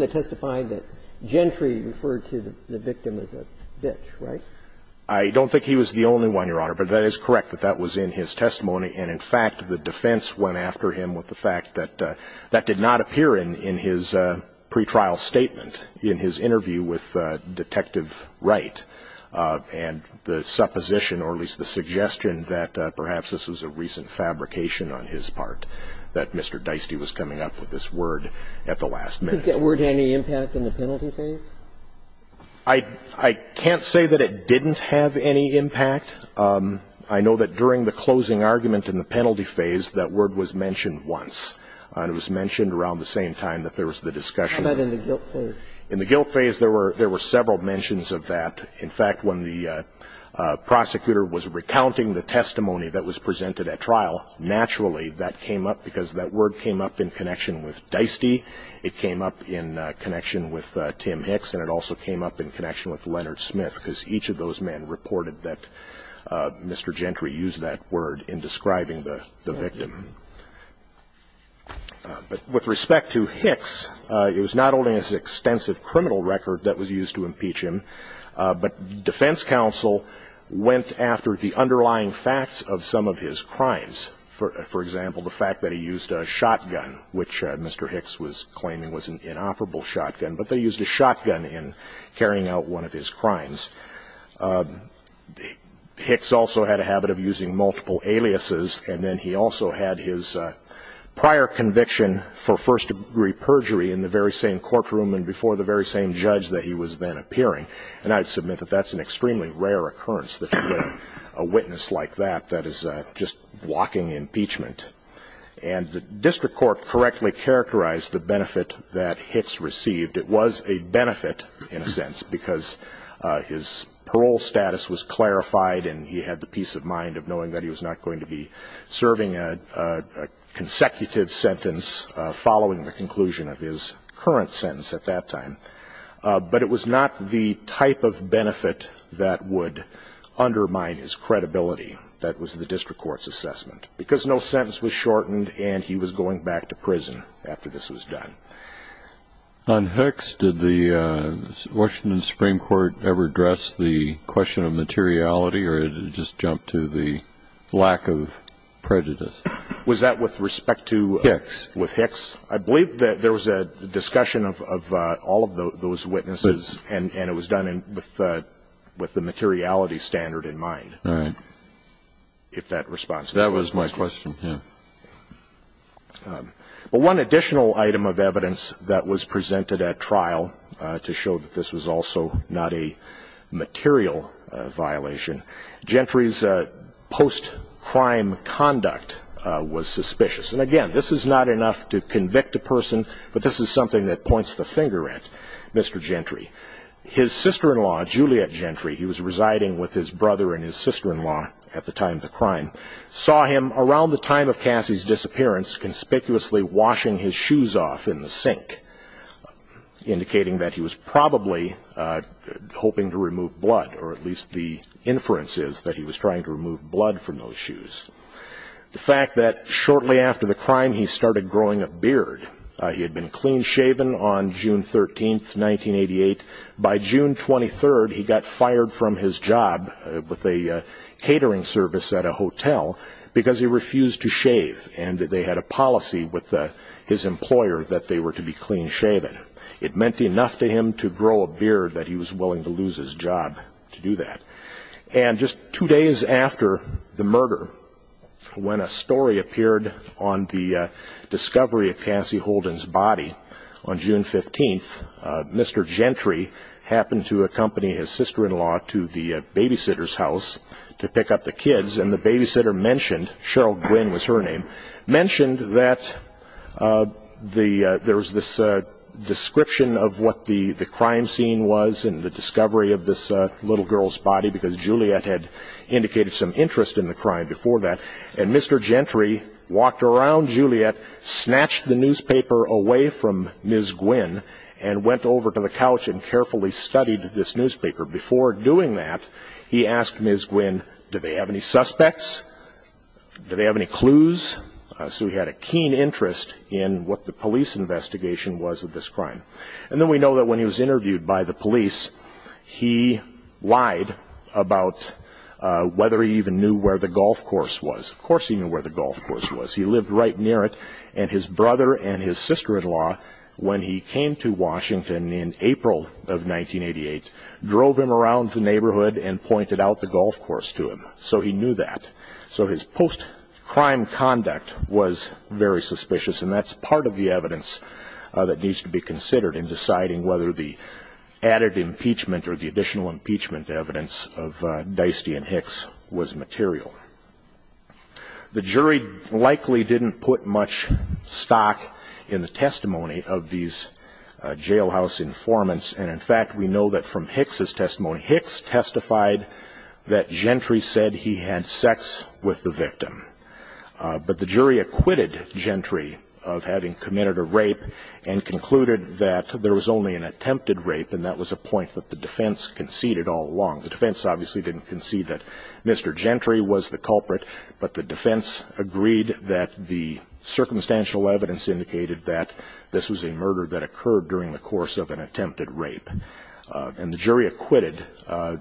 that testified that Gentry referred to the victim as a bitch, right? I don't think he was the only one, Your Honor, but that is correct that that was in his testimony, and in fact the defense went after him with the fact that that did not appear in his pretrial statement in his interview with Detective Wright, and the supposition, or at least the suggestion, that perhaps this was a recent fabrication on his part that Mr. Dieste was coming up with this word at the last minute. Did that word have any impact on the penalty for you? I can't say that it didn't have any impact. I know that during the closing argument in the penalty phase, that word was mentioned once. It was mentioned around the same time that there was the discussion. But in the guilt phase? In the guilt phase, there were several mentions of that. In fact, when the prosecutor was recounting the testimony that was presented at trial, naturally that came up because that word came up in connection with Dieste. It came up in connection with Tim Hicks, and it also came up in connection with Leonard Smith because each of those men reported that Mr. Gentry used that word in describing the victim. But with respect to Hicks, it was not only his extensive criminal record that was used to impeach him, but defense counsel went after the underlying facts of some of his crimes. For example, the fact that he used a shotgun, which Mr. Hicks was claiming was an inoperable shotgun, but they used a shotgun in carrying out one of his crimes. Hicks also had a habit of using multiple aliases, and then he also had his prior conviction for first-degree perjury in the very same courtroom and before the very same judge that he was then appearing, and I submit that that's an extremely rare occurrence that you get a witness like that that is just blocking impeachment. And the district court correctly characterized the benefit that Hicks received. It was a benefit in a sense because his parole status was clarified and he had the peace of mind of knowing that he was not going to be serving a consecutive sentence following the conclusion of his current sentence at that time. But it was not the type of benefit that would undermine his credibility. That was the district court's assessment. Because no sentence was shortened and he was going back to prison after this was done. On Hicks, did the Washington Supreme Court ever address the question of materiality or did it just jump to the lack of prejudice? Was that with respect to Hicks? With Hicks. I believe that there was a discussion of all of those witnesses and it was done with the materiality standard in mind, if that responds to your question. That was my question. One additional item of evidence that was presented at trial to show that this was also not a material violation, Gentry's post-crime conduct was suspicious. And, again, this is not enough to convict a person, but this is something that points the finger at Mr. Gentry. His sister-in-law, Juliet Gentry, he was residing with his brother and his sister-in-law at the time of the crime, saw him around the time of Cassie's disappearance conspicuously washing his shoes off in the sink, indicating that he was probably hoping to remove blood, or at least the inference is that he was trying to remove blood from those shoes. The fact that shortly after the crime, he started growing a beard. He had been clean-shaven on June 13, 1988. By June 23, he got fired from his job with a catering service at a hotel because he refused to shave and they had a policy with his employer that they were to be clean-shaven. It meant enough to him to grow a beard that he was willing to lose his job to do that. Just two days after the murder, when a story appeared on the discovery of Cassie Holden's body, on June 15, Mr. Gentry happened to accompany his sister-in-law to the babysitter's house to pick up the kids, and the babysitter mentioned, Cheryl Gwin was her name, mentioned that there was this description of what the crime scene was in the discovery of this little girl's body because Juliet had indicated some interest in the crime before that. And Mr. Gentry walked around Juliet, snatched the newspaper away from Ms. Gwin, and went over to the couch and carefully studied this newspaper. Before doing that, he asked Ms. Gwin, did they have any suspects? Did they have any clues? So he had a keen interest in what the police investigation was of this crime. And then we know that when he was interviewed by the police, he lied about whether he even knew where the golf course was. Of course he knew where the golf course was. He lived right near it, and his brother and his sister-in-law, when he came to Washington in April of 1988, drove him around the neighborhood and pointed out the golf course to him. So he knew that. So his post-crime conduct was very suspicious, and that's part of the evidence that needs to be considered in deciding whether the added impeachment or the additional impeachment evidence of Deisty and Hicks was material. The jury likely didn't put much stock in the testimony of these jailhouse informants. And, in fact, we know that from Hicks' testimony, Hicks testified that Gentry said he had sex with the victim. But the jury acquitted Gentry of having committed a rape and concluded that there was only an attempted rape, and that was a point that the defense conceded all along. The defense obviously didn't concede that Mr. Gentry was the culprit, but the defense agreed that the circumstantial evidence indicated that this was a murder that occurred during the course of an attempted rape. And the jury acquitted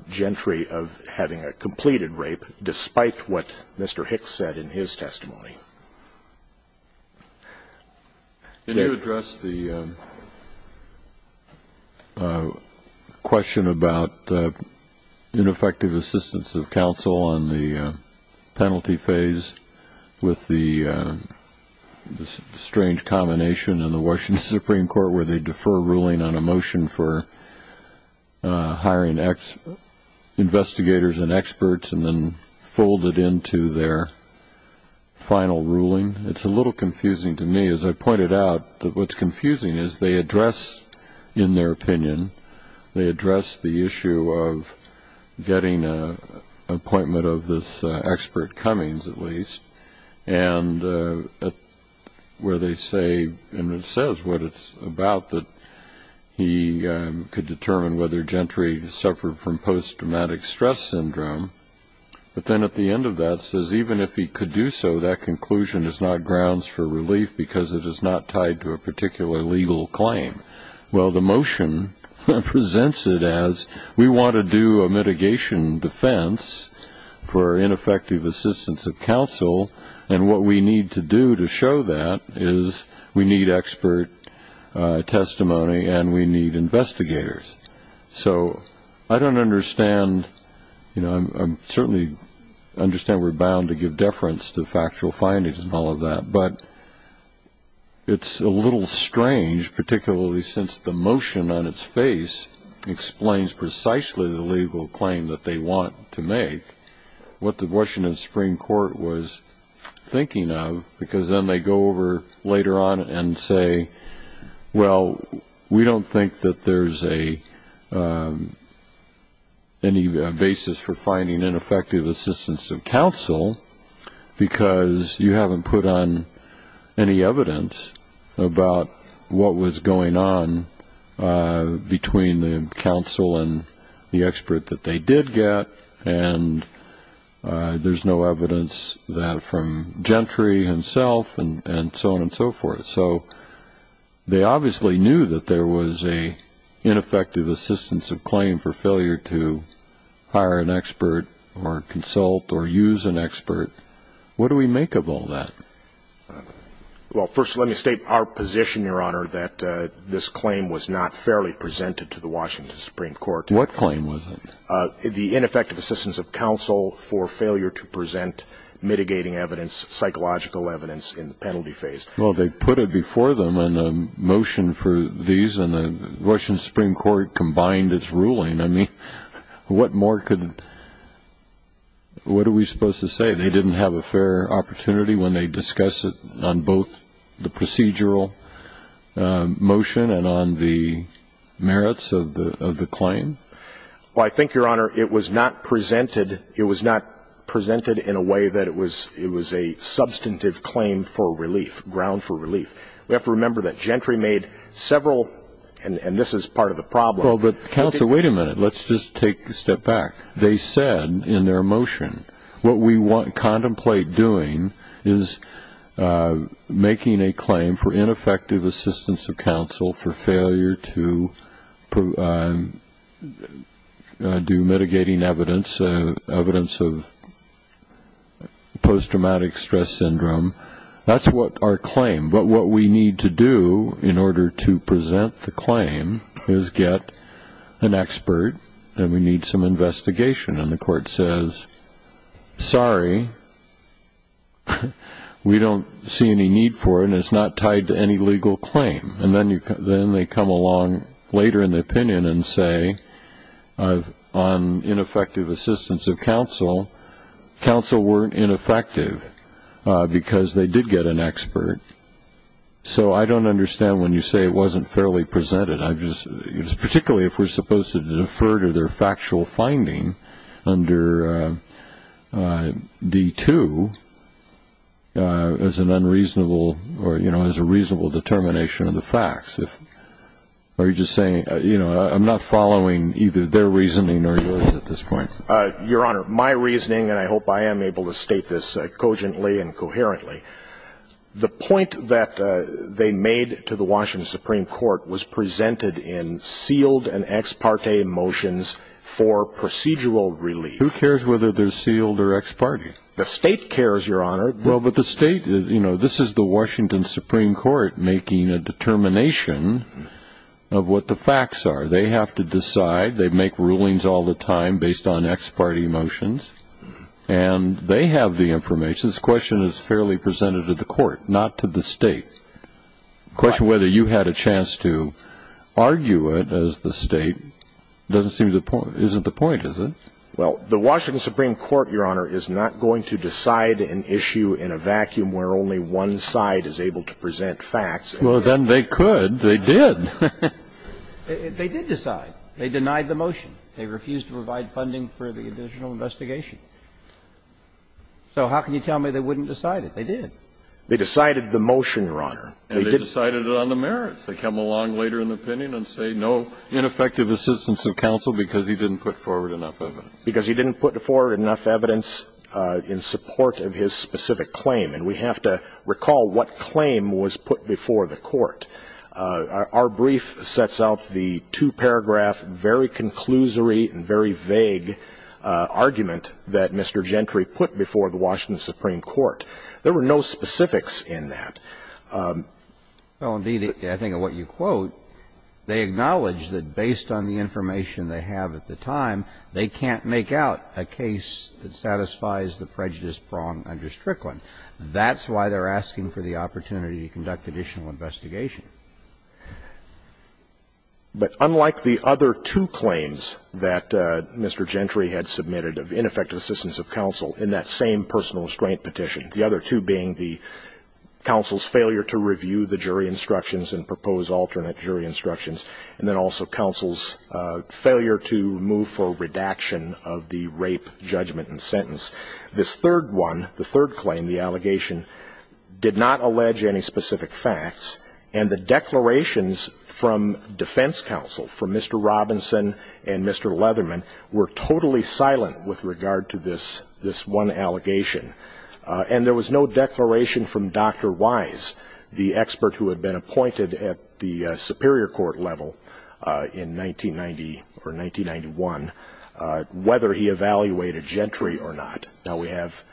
Gentry of having a completed rape, despite what Mr. Hicks said in his testimony. Can you address the question about ineffective assistance of counsel on the penalty phase with the strange combination in the Washington Supreme Court where they defer ruling on a motion for hiring investigators and experts and then fold it into their final ruling? It's a little confusing to me. As I pointed out, what's confusing is they address in their opinion, they address the issue of getting an appointment of this expert Cummings, at least, where they say, and it says what it's about, that he could determine whether Gentry suffered from post-traumatic stress syndrome. But then at the end of that it says even if he could do so, that conclusion is not grounds for relief because it is not tied to a particular legal claim. Well, the motion presents it as we want to do a mitigation defense for ineffective assistance of counsel, and what we need to do to show that is we need expert testimony and we need investigators. So I don't understand. I certainly understand we're bound to give deference to factual findings and all of that, but it's a little strange, particularly since the motion on its face explains precisely the legal claim that they want to make. What the Washington Supreme Court was thinking of, because then they go over later on and say, well, we don't think that there's any basis for finding ineffective assistance of counsel, because you haven't put on any evidence about what was going on between the counsel and the expert that they did get, and there's no evidence from Gentry himself and so on and so forth. So they obviously knew that there was an ineffective assistance of claim for failure to hire an expert or consult or use an expert. What do we make of all that? I'm concerned that this claim was not fairly presented to the Washington Supreme Court. What claim was it? The ineffective assistance of counsel for failure to present mitigating evidence, psychological evidence in the penalty phase. Well, they put it before them in a motion for these, and the Washington Supreme Court combined its ruling. I mean, what more could we say? They didn't have a fair opportunity when they discussed it on both the procedural motion and on the merits of the claim? Well, I think, Your Honor, it was not presented in a way that it was a substantive claim for relief, ground for relief. We have to remember that Gentry made several, and this is part of the problem. Well, but counsel, wait a minute. Let's just take a step back. They said in their motion, what we contemplate doing is making a claim for ineffective assistance of counsel for failure to do mitigating evidence, evidence of post-traumatic stress syndrome. That's what our claim, but what we need to do in order to present the claim is get an expert, and we need some investigation. And the court says, sorry, we don't see any need for it, and it's not tied to any legal claim. And then they come along later in the opinion and say on ineffective assistance of counsel, counsel weren't ineffective because they did get an expert. So I don't understand when you say it wasn't fairly presented. Particularly if we're supposed to defer to their factual finding under D-2 as an unreasonable or, you know, as a reasonable determination of the facts. Are you just saying, you know, I'm not following either their reasoning or yours at this point. Your Honor, my reasoning, and I hope I am able to state this cogently and coherently, the point that they made to the Washington Supreme Court was presented in sealed and ex parte motions for procedural relief. Who cares whether they're sealed or ex parte? The state cares, Your Honor. Well, but the state, you know, this is the Washington Supreme Court making a determination of what the facts are. They have to decide. They make rulings all the time based on ex parte motions, and they have the information. I guess this question is fairly presented to the court, not to the state. The question whether you had a chance to argue it as the state doesn't seem to, isn't the point, is it? Well, the Washington Supreme Court, Your Honor, is not going to decide an issue in a vacuum where only one side is able to present facts. Well, then they could. They did. They did decide. They denied the motion. They refused to provide funding for the additional investigation. So how can you tell me they wouldn't decide it? They did. They decided the motion, Your Honor. And they decided it on the merits. They come along later in the opinion and say no ineffective assistance of counsel because he didn't put forward enough evidence. Because he didn't put forward enough evidence in support of his specific claim. And we have to recall what claim was put before the court. Our brief sets out the two-paragraph very conclusory and very vague argument that Mr. Gentry put before the Washington Supreme Court. There were no specifics in that. I think what you quote, they acknowledge that based on the information they have at the time, they can't make out a case that satisfies the prejudice prong under Strickland. That's why they're asking for the opportunity to conduct additional investigation. But unlike the other two claims that Mr. Gentry had submitted of ineffective assistance of counsel in that same personal restraint petition, the other two being the counsel's failure to review the jury instructions and propose alternate jury instructions, and then also counsel's failure to move for a redaction of the rape judgment and sentence, this third one, the third claim, the allegation, did not allege any specific facts. And the declarations from defense counsel, from Mr. Robinson and Mr. Leatherman, were totally silent with regard to this one allegation. And there was no declaration from Dr. Wise, the expert who had been appointed at the Superior Court level in 1990 or 1991, whether he evaluated Gentry or not. Now we have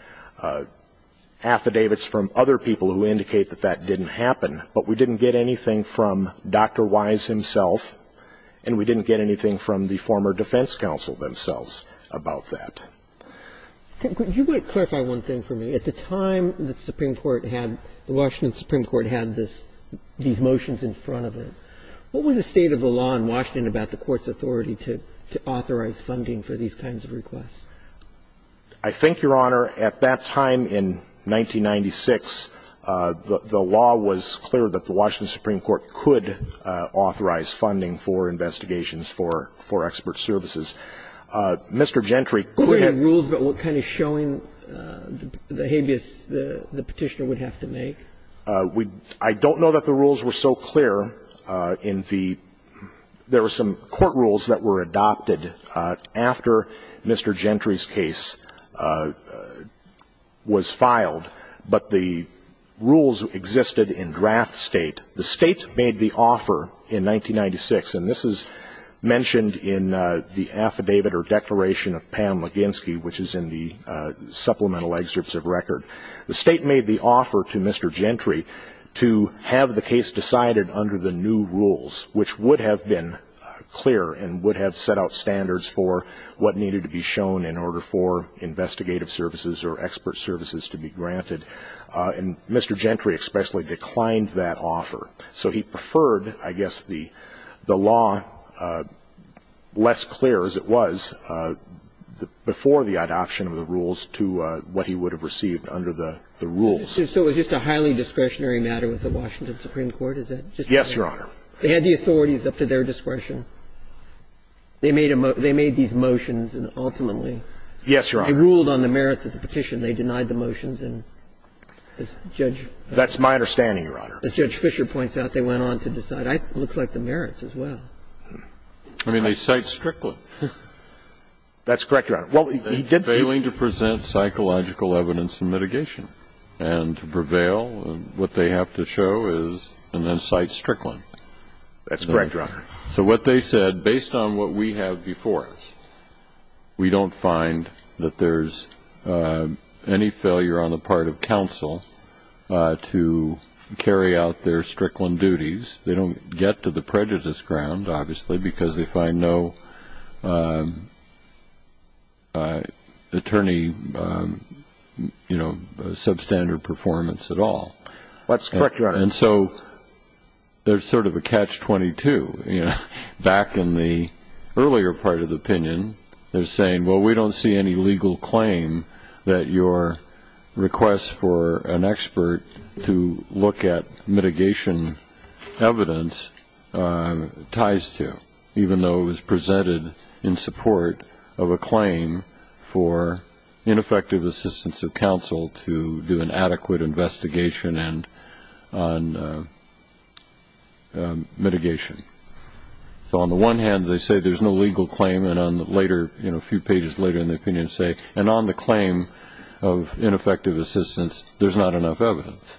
affidavits from other people who indicate that that didn't happen, but we didn't get anything from Dr. Wise himself, and we didn't get anything from the former defense counsel themselves about that. Could you clarify one thing for me? At the time the Supreme Court had, the Washington Supreme Court had these motions in front of it, what was the state of the law in Washington about the court's authority to authorize funding for these kinds of requests? I think, Your Honor, at that time in 1996, the law was clear that the Washington Supreme Court could authorize funding for investigations for expert services. Mr. Gentry- We have rules, but what kind of showing behavior the petitioner would have to make? I don't know that the rules were so clear in the- there were some court rules that were adopted after Mr. Gentry's case was filed, but the rules existed in draft state. The state made the offer in 1996, and this is mentioned in the affidavit or declaration of Pam Leginski, which is in the supplemental excerpts of record. The state made the offer to Mr. Gentry to have the case decided under the new rules, which would have been clear and would have set out standards for what needed to be shown in order for investigative services or expert services to be granted, and Mr. Gentry especially declined that offer. So he preferred, I guess, the law less clear as it was before the adoption of the rules to what he would have received under the rules. So it was just a highly discretionary matter with the Washington Supreme Court? Yes, Your Honor. They had the authorities up to their discretion. They made these motions, and ultimately- Yes, Your Honor. They ruled on the merits of the petition. That's my understanding, Your Honor. As Judge Fischer points out, they went on to decide. It looks like the merits as well. I mean, they cite Strickland. That's correct, Your Honor. Failing to present psychological evidence and mitigation, and to prevail, what they have to show is, and then cite Strickland. That's correct, Your Honor. So what they said, based on what we have before us, we don't find that there's any failure on the part of counsel to carry out their Strickland duties. They don't get to the prejudice ground, obviously, because they find no attorney, you know, substandard performance at all. And so there's sort of a catch-22. Back in the earlier part of the opinion, they're saying, well, we don't see any legal claim that your request for an expert to look at mitigation evidence ties to, even though it was presented in support of a claim for ineffective assistance of counsel to do an adequate investigation on mitigation. So on the one hand, they say there's no legal claim, and a few pages later in the opinion say, and on the claim of ineffective assistance, there's not enough evidence.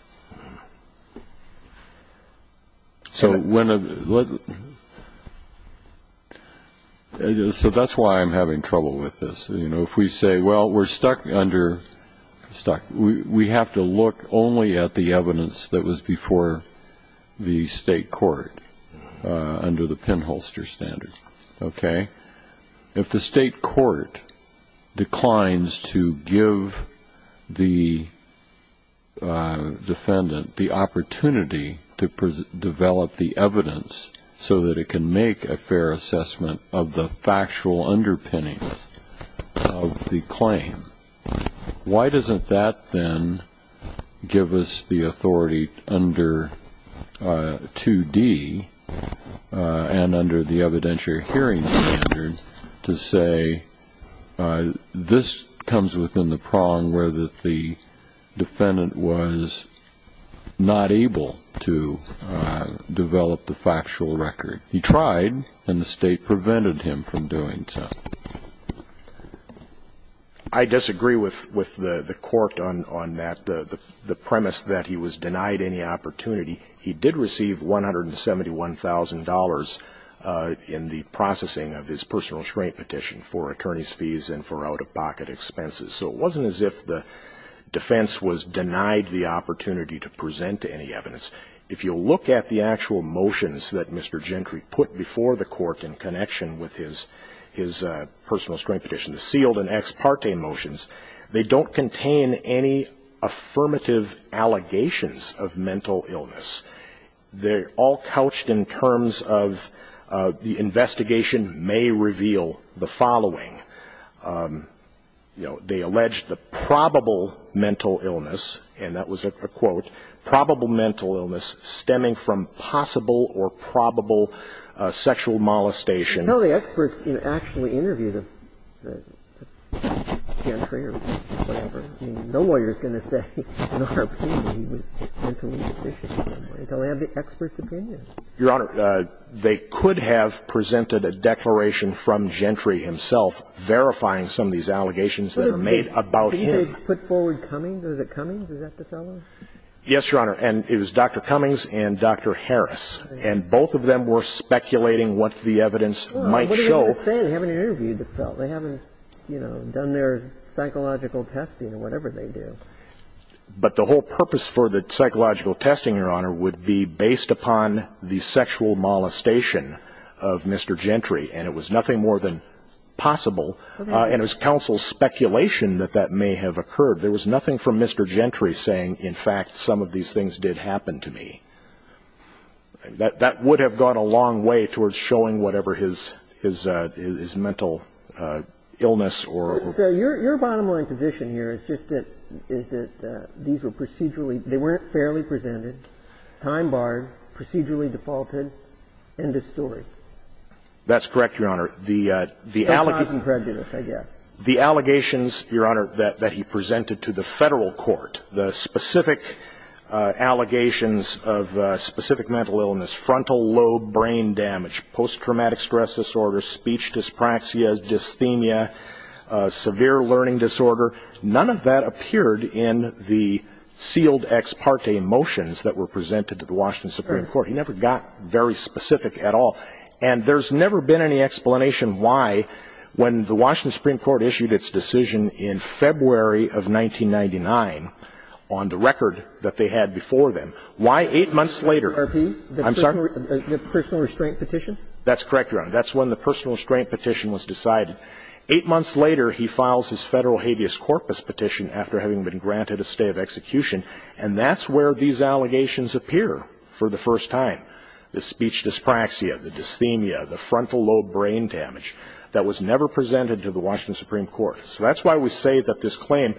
So that's why I'm having trouble with this. You know, if we say, well, we're stuck under, we have to look only at the evidence that was before the state court under the pinholster standard, okay? If the state court declines to give the defendant the opportunity to develop the evidence so that it can make a fair assessment of the factual underpinning of the claim, why doesn't that then give us the authority under 2D and under the evidentiary hearing standard to say, this comes within the prong where the defendant was not able to develop the factual record? He tried, and the state prevented him from doing so. I disagree with the court on the premise that he was denied any opportunity. He did receive $171,000 in the processing of his personal restraint petition for attorney's fees and for out-of-pocket expenses. So it wasn't as if the defense was denied the opportunity to present any evidence. If you look at the actual motions that Mr. Gentry put before the court in connection with his personal restraint petition, the sealed and ex parte motions, they don't contain any affirmative allegations of mental illness. They're all couched in terms of the investigation may reveal the following. They allege the probable mental illness, and that was a quote, probable mental illness stemming from possible or probable sexual molestation. Your Honor, they could have presented a declaration from Gentry himself verifying some of these allegations that are made about him. Did they put forward Cummings? Was it Cummings? Is that the fellow? Yes, Your Honor. And it was Dr. Cummings and Dr. Harris, and both of them were speculating what the evidence might show. What are they going to say? They haven't interviewed the fellow. They haven't, you know, done their psychological testing or whatever they do. But the whole purpose for the psychological testing, Your Honor, would be based upon the sexual molestation of Mr. Gentry, and it was nothing more than possible, and it was counsel's speculation that that may have occurred. There was nothing from Mr. Gentry saying, in fact, some of these things did happen to me. That would have gone a long way towards showing whatever his mental illness or – So your bottom line position here is just that these were procedurally – they weren't fairly presented, time-barred, procedurally defaulted, and distorted. That's correct, Your Honor. That's not incredulous, I guess. The allegations, Your Honor, that he presented to the federal court, the specific allegations of specific mental illness, frontal lobe brain damage, post-traumatic stress disorder, speech dyspraxia, dysthenia, severe learning disorder, none of that appeared in the sealed ex parte motions that were presented to the Washington Supreme Court. He never got very specific at all. And there's never been any explanation why, when the Washington Supreme Court issued its decision in February of 1999, on the record that they had before then, why eight months later – Are these the personal restraint petitions? That's correct, Your Honor. That's when the personal restraint petition was decided. Eight months later, he files his federal habeas corpus petition after having been granted a stay of execution, and that's where these allegations appear for the first time. The speech dyspraxia, the dysthenia, the frontal lobe brain damage, that was never presented to the Washington Supreme Court. So that's why we say that this claim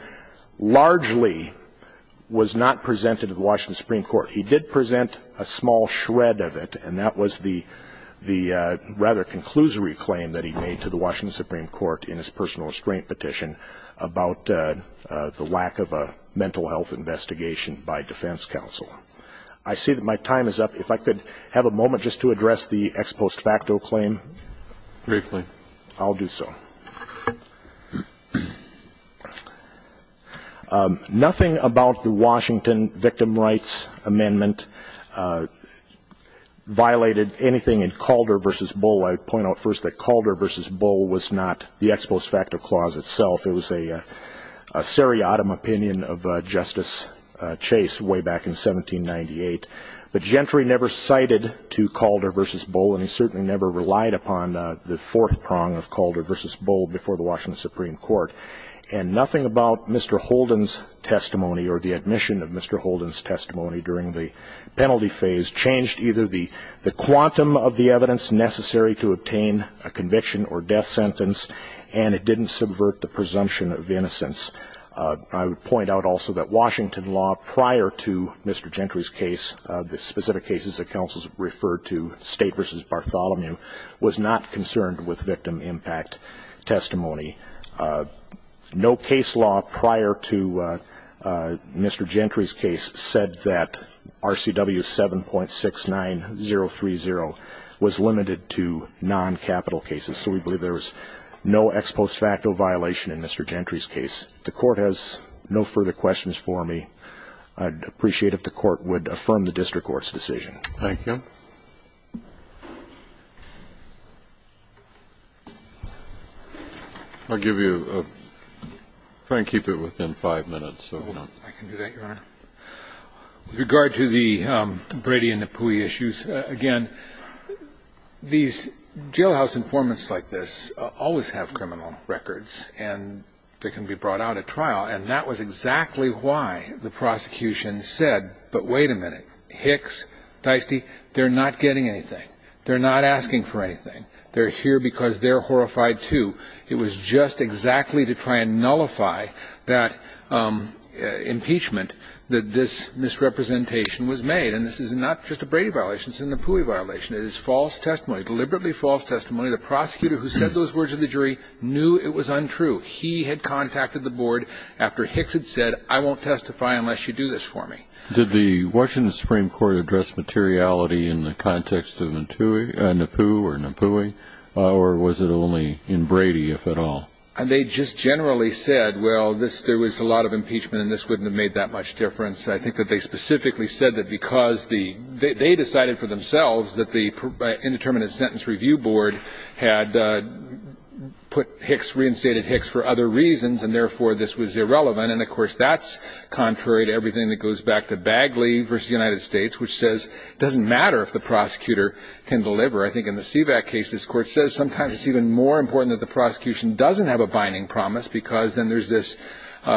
largely was not presented to the Washington Supreme Court. He did present a small shred of it, and that was the rather conclusory claim that he made to the Washington Supreme Court in his personal restraint petition about the lack of a mental health investigation by defense counsel. I see that my time is up. If I could have a moment just to address the ex post facto claim. Briefly. I'll do so. Nothing about the Washington victim rights amendment violated anything in Calder v. Bull. I point out first that Calder v. Bull was not the ex post facto clause itself. It was a seriatim opinion of Justice Chase way back in 1798. The gentry never cited to Calder v. Bull, and he certainly never relied upon the fourth prong of Calder v. Bull before the Washington Supreme Court. And nothing about Mr. Holden's testimony or the admission of Mr. Holden's testimony during the penalty phase changed either the quantum of the evidence necessary to obtain a conviction or death sentence, and it didn't subvert the presumption of innocence. I would point out also that Washington law prior to Mr. Gentry's case, the specific cases that counsels referred to, State v. Bartholomew, was not concerned with victim impact testimony. No case law prior to Mr. Gentry's case said that RCW 7.69030 was limited to non-capital cases. So we believe there was no ex post facto violation in Mr. Gentry's case. If the court has no further questions for me, I'd appreciate it if the court would affirm the district court's decision. Thank you. I'll give you a – try and keep it within five minutes. I can do that, Your Honor. With regard to the Brady and the Pui issues, again, these jailhouse informants like this always have criminal records, and they can be brought out at trial, and that was exactly why the prosecution said, but wait a minute, Hicks, Dicey, they're not getting anything. They're not asking for anything. They're here because they're horrified too. It was just exactly to try and nullify that impeachment that this misrepresentation was made, and this is not just a Brady violation. It's a Napui violation. It is false testimony, deliberately false testimony. The prosecutor who said those words to the jury knew it was untrue. He had contacted the board after Hicks had said, I won't testify unless you do this for me. Did the Washington Supreme Court address materiality in the context of Napui, or was it only in Brady, if at all? They just generally said, well, there was a lot of impeachment, and this wouldn't have made that much difference. I think that they specifically said that because they decided for themselves that the Indeterminate Sentence Review Board had reinstated Hicks for other reasons, and therefore this was irrelevant, and, of course, that's contrary to everything that goes back to Bagley versus the United States, which says it doesn't matter if the prosecutor can deliver. I think in the CVAC case, this court says sometimes it's even more important that the prosecution doesn't have a binding promise because then there's this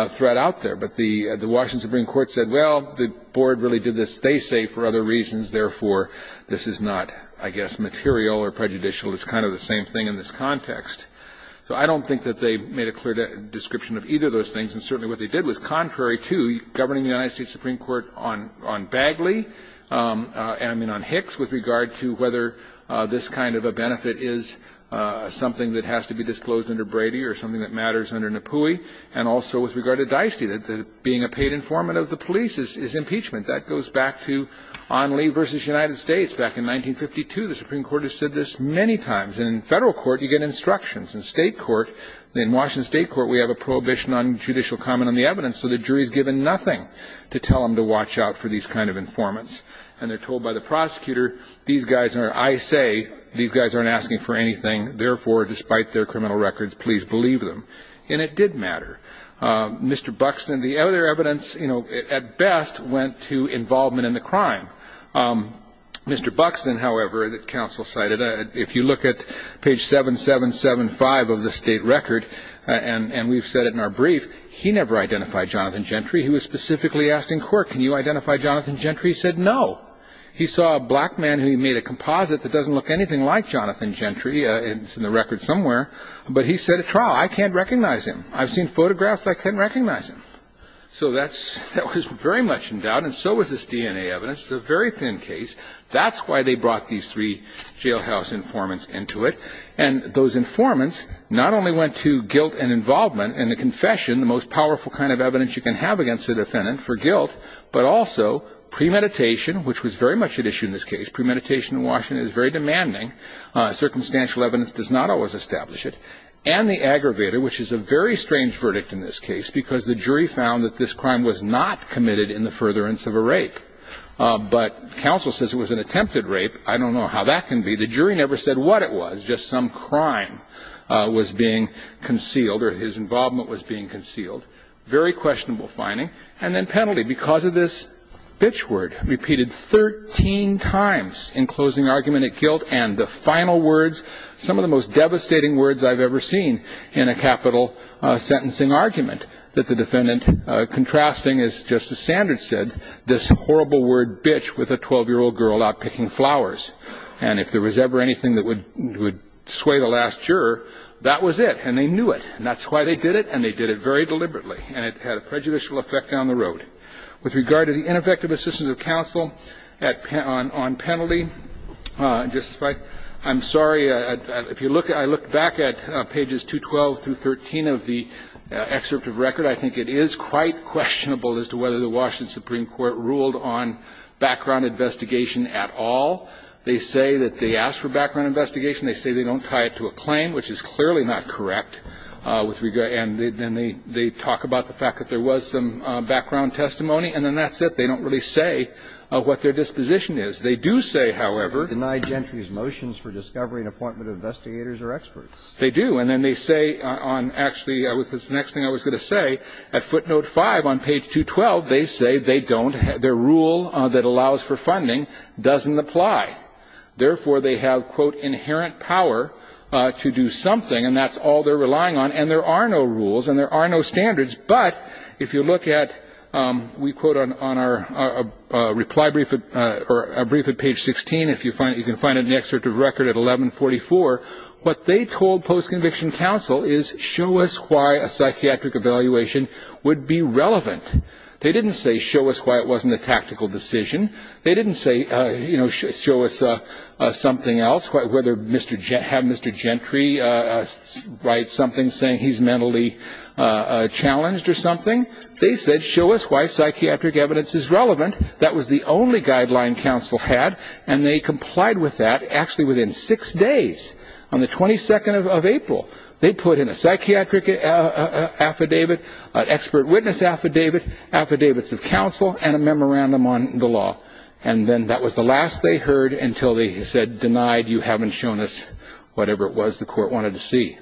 threat out there. But the Washington Supreme Court said, well, the board really did this, they say, for other reasons, therefore this is not, I guess, material or prejudicial. It's kind of the same thing in this context. So I don't think that they made a clear description of either of those things, and certainly what they did was contrary to governing the United States Supreme Court on Bagley, and then on Hicks with regard to whether this kind of a benefit is something that has to be disclosed under Brady or something that matters under Napui, and also with regard to Dieste, that being a paid informant of the police is impeachment. That goes back to Onley versus United States back in 1952. The Supreme Court has said this many times. In federal court, you get instructions. In Washington State Court, we have a prohibition on judicial comment on the evidence, so the jury is given nothing to tell them to watch out for these kind of informants, and they're told by the prosecutor, I say these guys aren't asking for anything, therefore, despite their criminal records, please believe them. And it did matter. Mr. Buxton, the other evidence, at best, went to involvement in the crime. Mr. Buxton, however, the counsel cited, if you look at page 7775 of the state record, and we've said it in our brief, he never identified Jonathan Gentry. He was specifically asking court, can you identify Jonathan Gentry? He said no. He saw a black man who made a composite that doesn't look anything like Jonathan Gentry. It's in the record somewhere, but he said at trial, I can't recognize him. I've seen photographs. I can't recognize him. So that was very much in doubt, and so was this DNA evidence. It's a very thin case. That's why they brought these three jailhouse informants into it, and those informants not only went to guilt and involvement and the confession, the most powerful kind of evidence you can have against a defendant for guilt, but also premeditation, which was very much at issue in this case. Premeditation in Washington is very demanding. Circumstantial evidence does not always establish it. And the aggravator, which is a very strange verdict in this case, because the jury found that this crime was not committed in the furtherance of a rape, but counsel says it was an attempted rape. I don't know how that can be. The jury never said what it was, just some crime was being concealed or his involvement was being concealed. Very questionable finding. And then penalty, because of this bitch word, repeated 13 times in closing argument at guilt, and the final words, some of the most devastating words I've ever seen in a capital sentencing argument, that the defendant contrasting, as Justice Sanders said, this horrible word bitch with a 12-year-old girl out picking flowers. And if there was ever anything that would sway the last juror, that was it, and they knew it. And that's why they did it, and they did it very deliberately, and it had a prejudicial effect down the road. With regard to the ineffective assistance of counsel on penalty, I'm sorry. If you look, I look back at pages 212 through 13 of the excerpt of record, I think it is quite questionable as to whether the Washington Supreme Court ruled on background investigation at all. They say that they asked for background investigation. They say they don't tie it to a claim, which is clearly not correct. And then they talk about the fact that there was some background testimony, and then that's it. They don't really say what their disposition is. They do say, however, Deny gentry's motions for discovery and appointment of investigators or experts. They do, and then they say, actually, the next thing I was going to say, at footnote 5 on page 212, they say their rule that allows for funding doesn't apply. Therefore, they have, quote, inherent power to do something, and that's all they're relying on, and there are no rules and there are no standards. But if you look at, we quote on our reply brief or a brief at page 16, if you can find it in the excerpt of record at 1144, what they told post-conviction counsel is, show us why a psychiatric evaluation would be relevant. They didn't say, show us why it wasn't a tactical decision. They didn't say, show us something else, whether Mr. Gentry writes something saying he's mentally challenged or something. They said, show us why psychiatric evidence is relevant. That was the only guideline counsel had, and they complied with that actually within six days. On the 22nd of April, they put in a psychiatric affidavit, an expert witness affidavit, affidavits of counsel, and a memorandum on the law, and then that was the last they heard until they said, denied, you haven't shown us whatever it was the court wanted to see.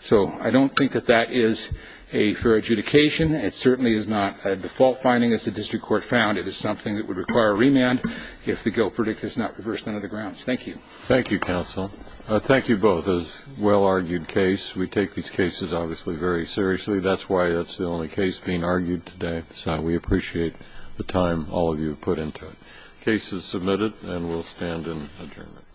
So I don't think that that is a fair adjudication. It certainly is not a default finding as the district court found. It is something that would require remand if the guilt predictor is not reversed under the grounds. Thank you. Thank you, counsel. Thank you both. It was a well-argued case. We take these cases obviously very seriously. That's why it's the only case being argued today. So we appreciate the time all of you have put into it. The case is submitted, and we'll stand adjourned.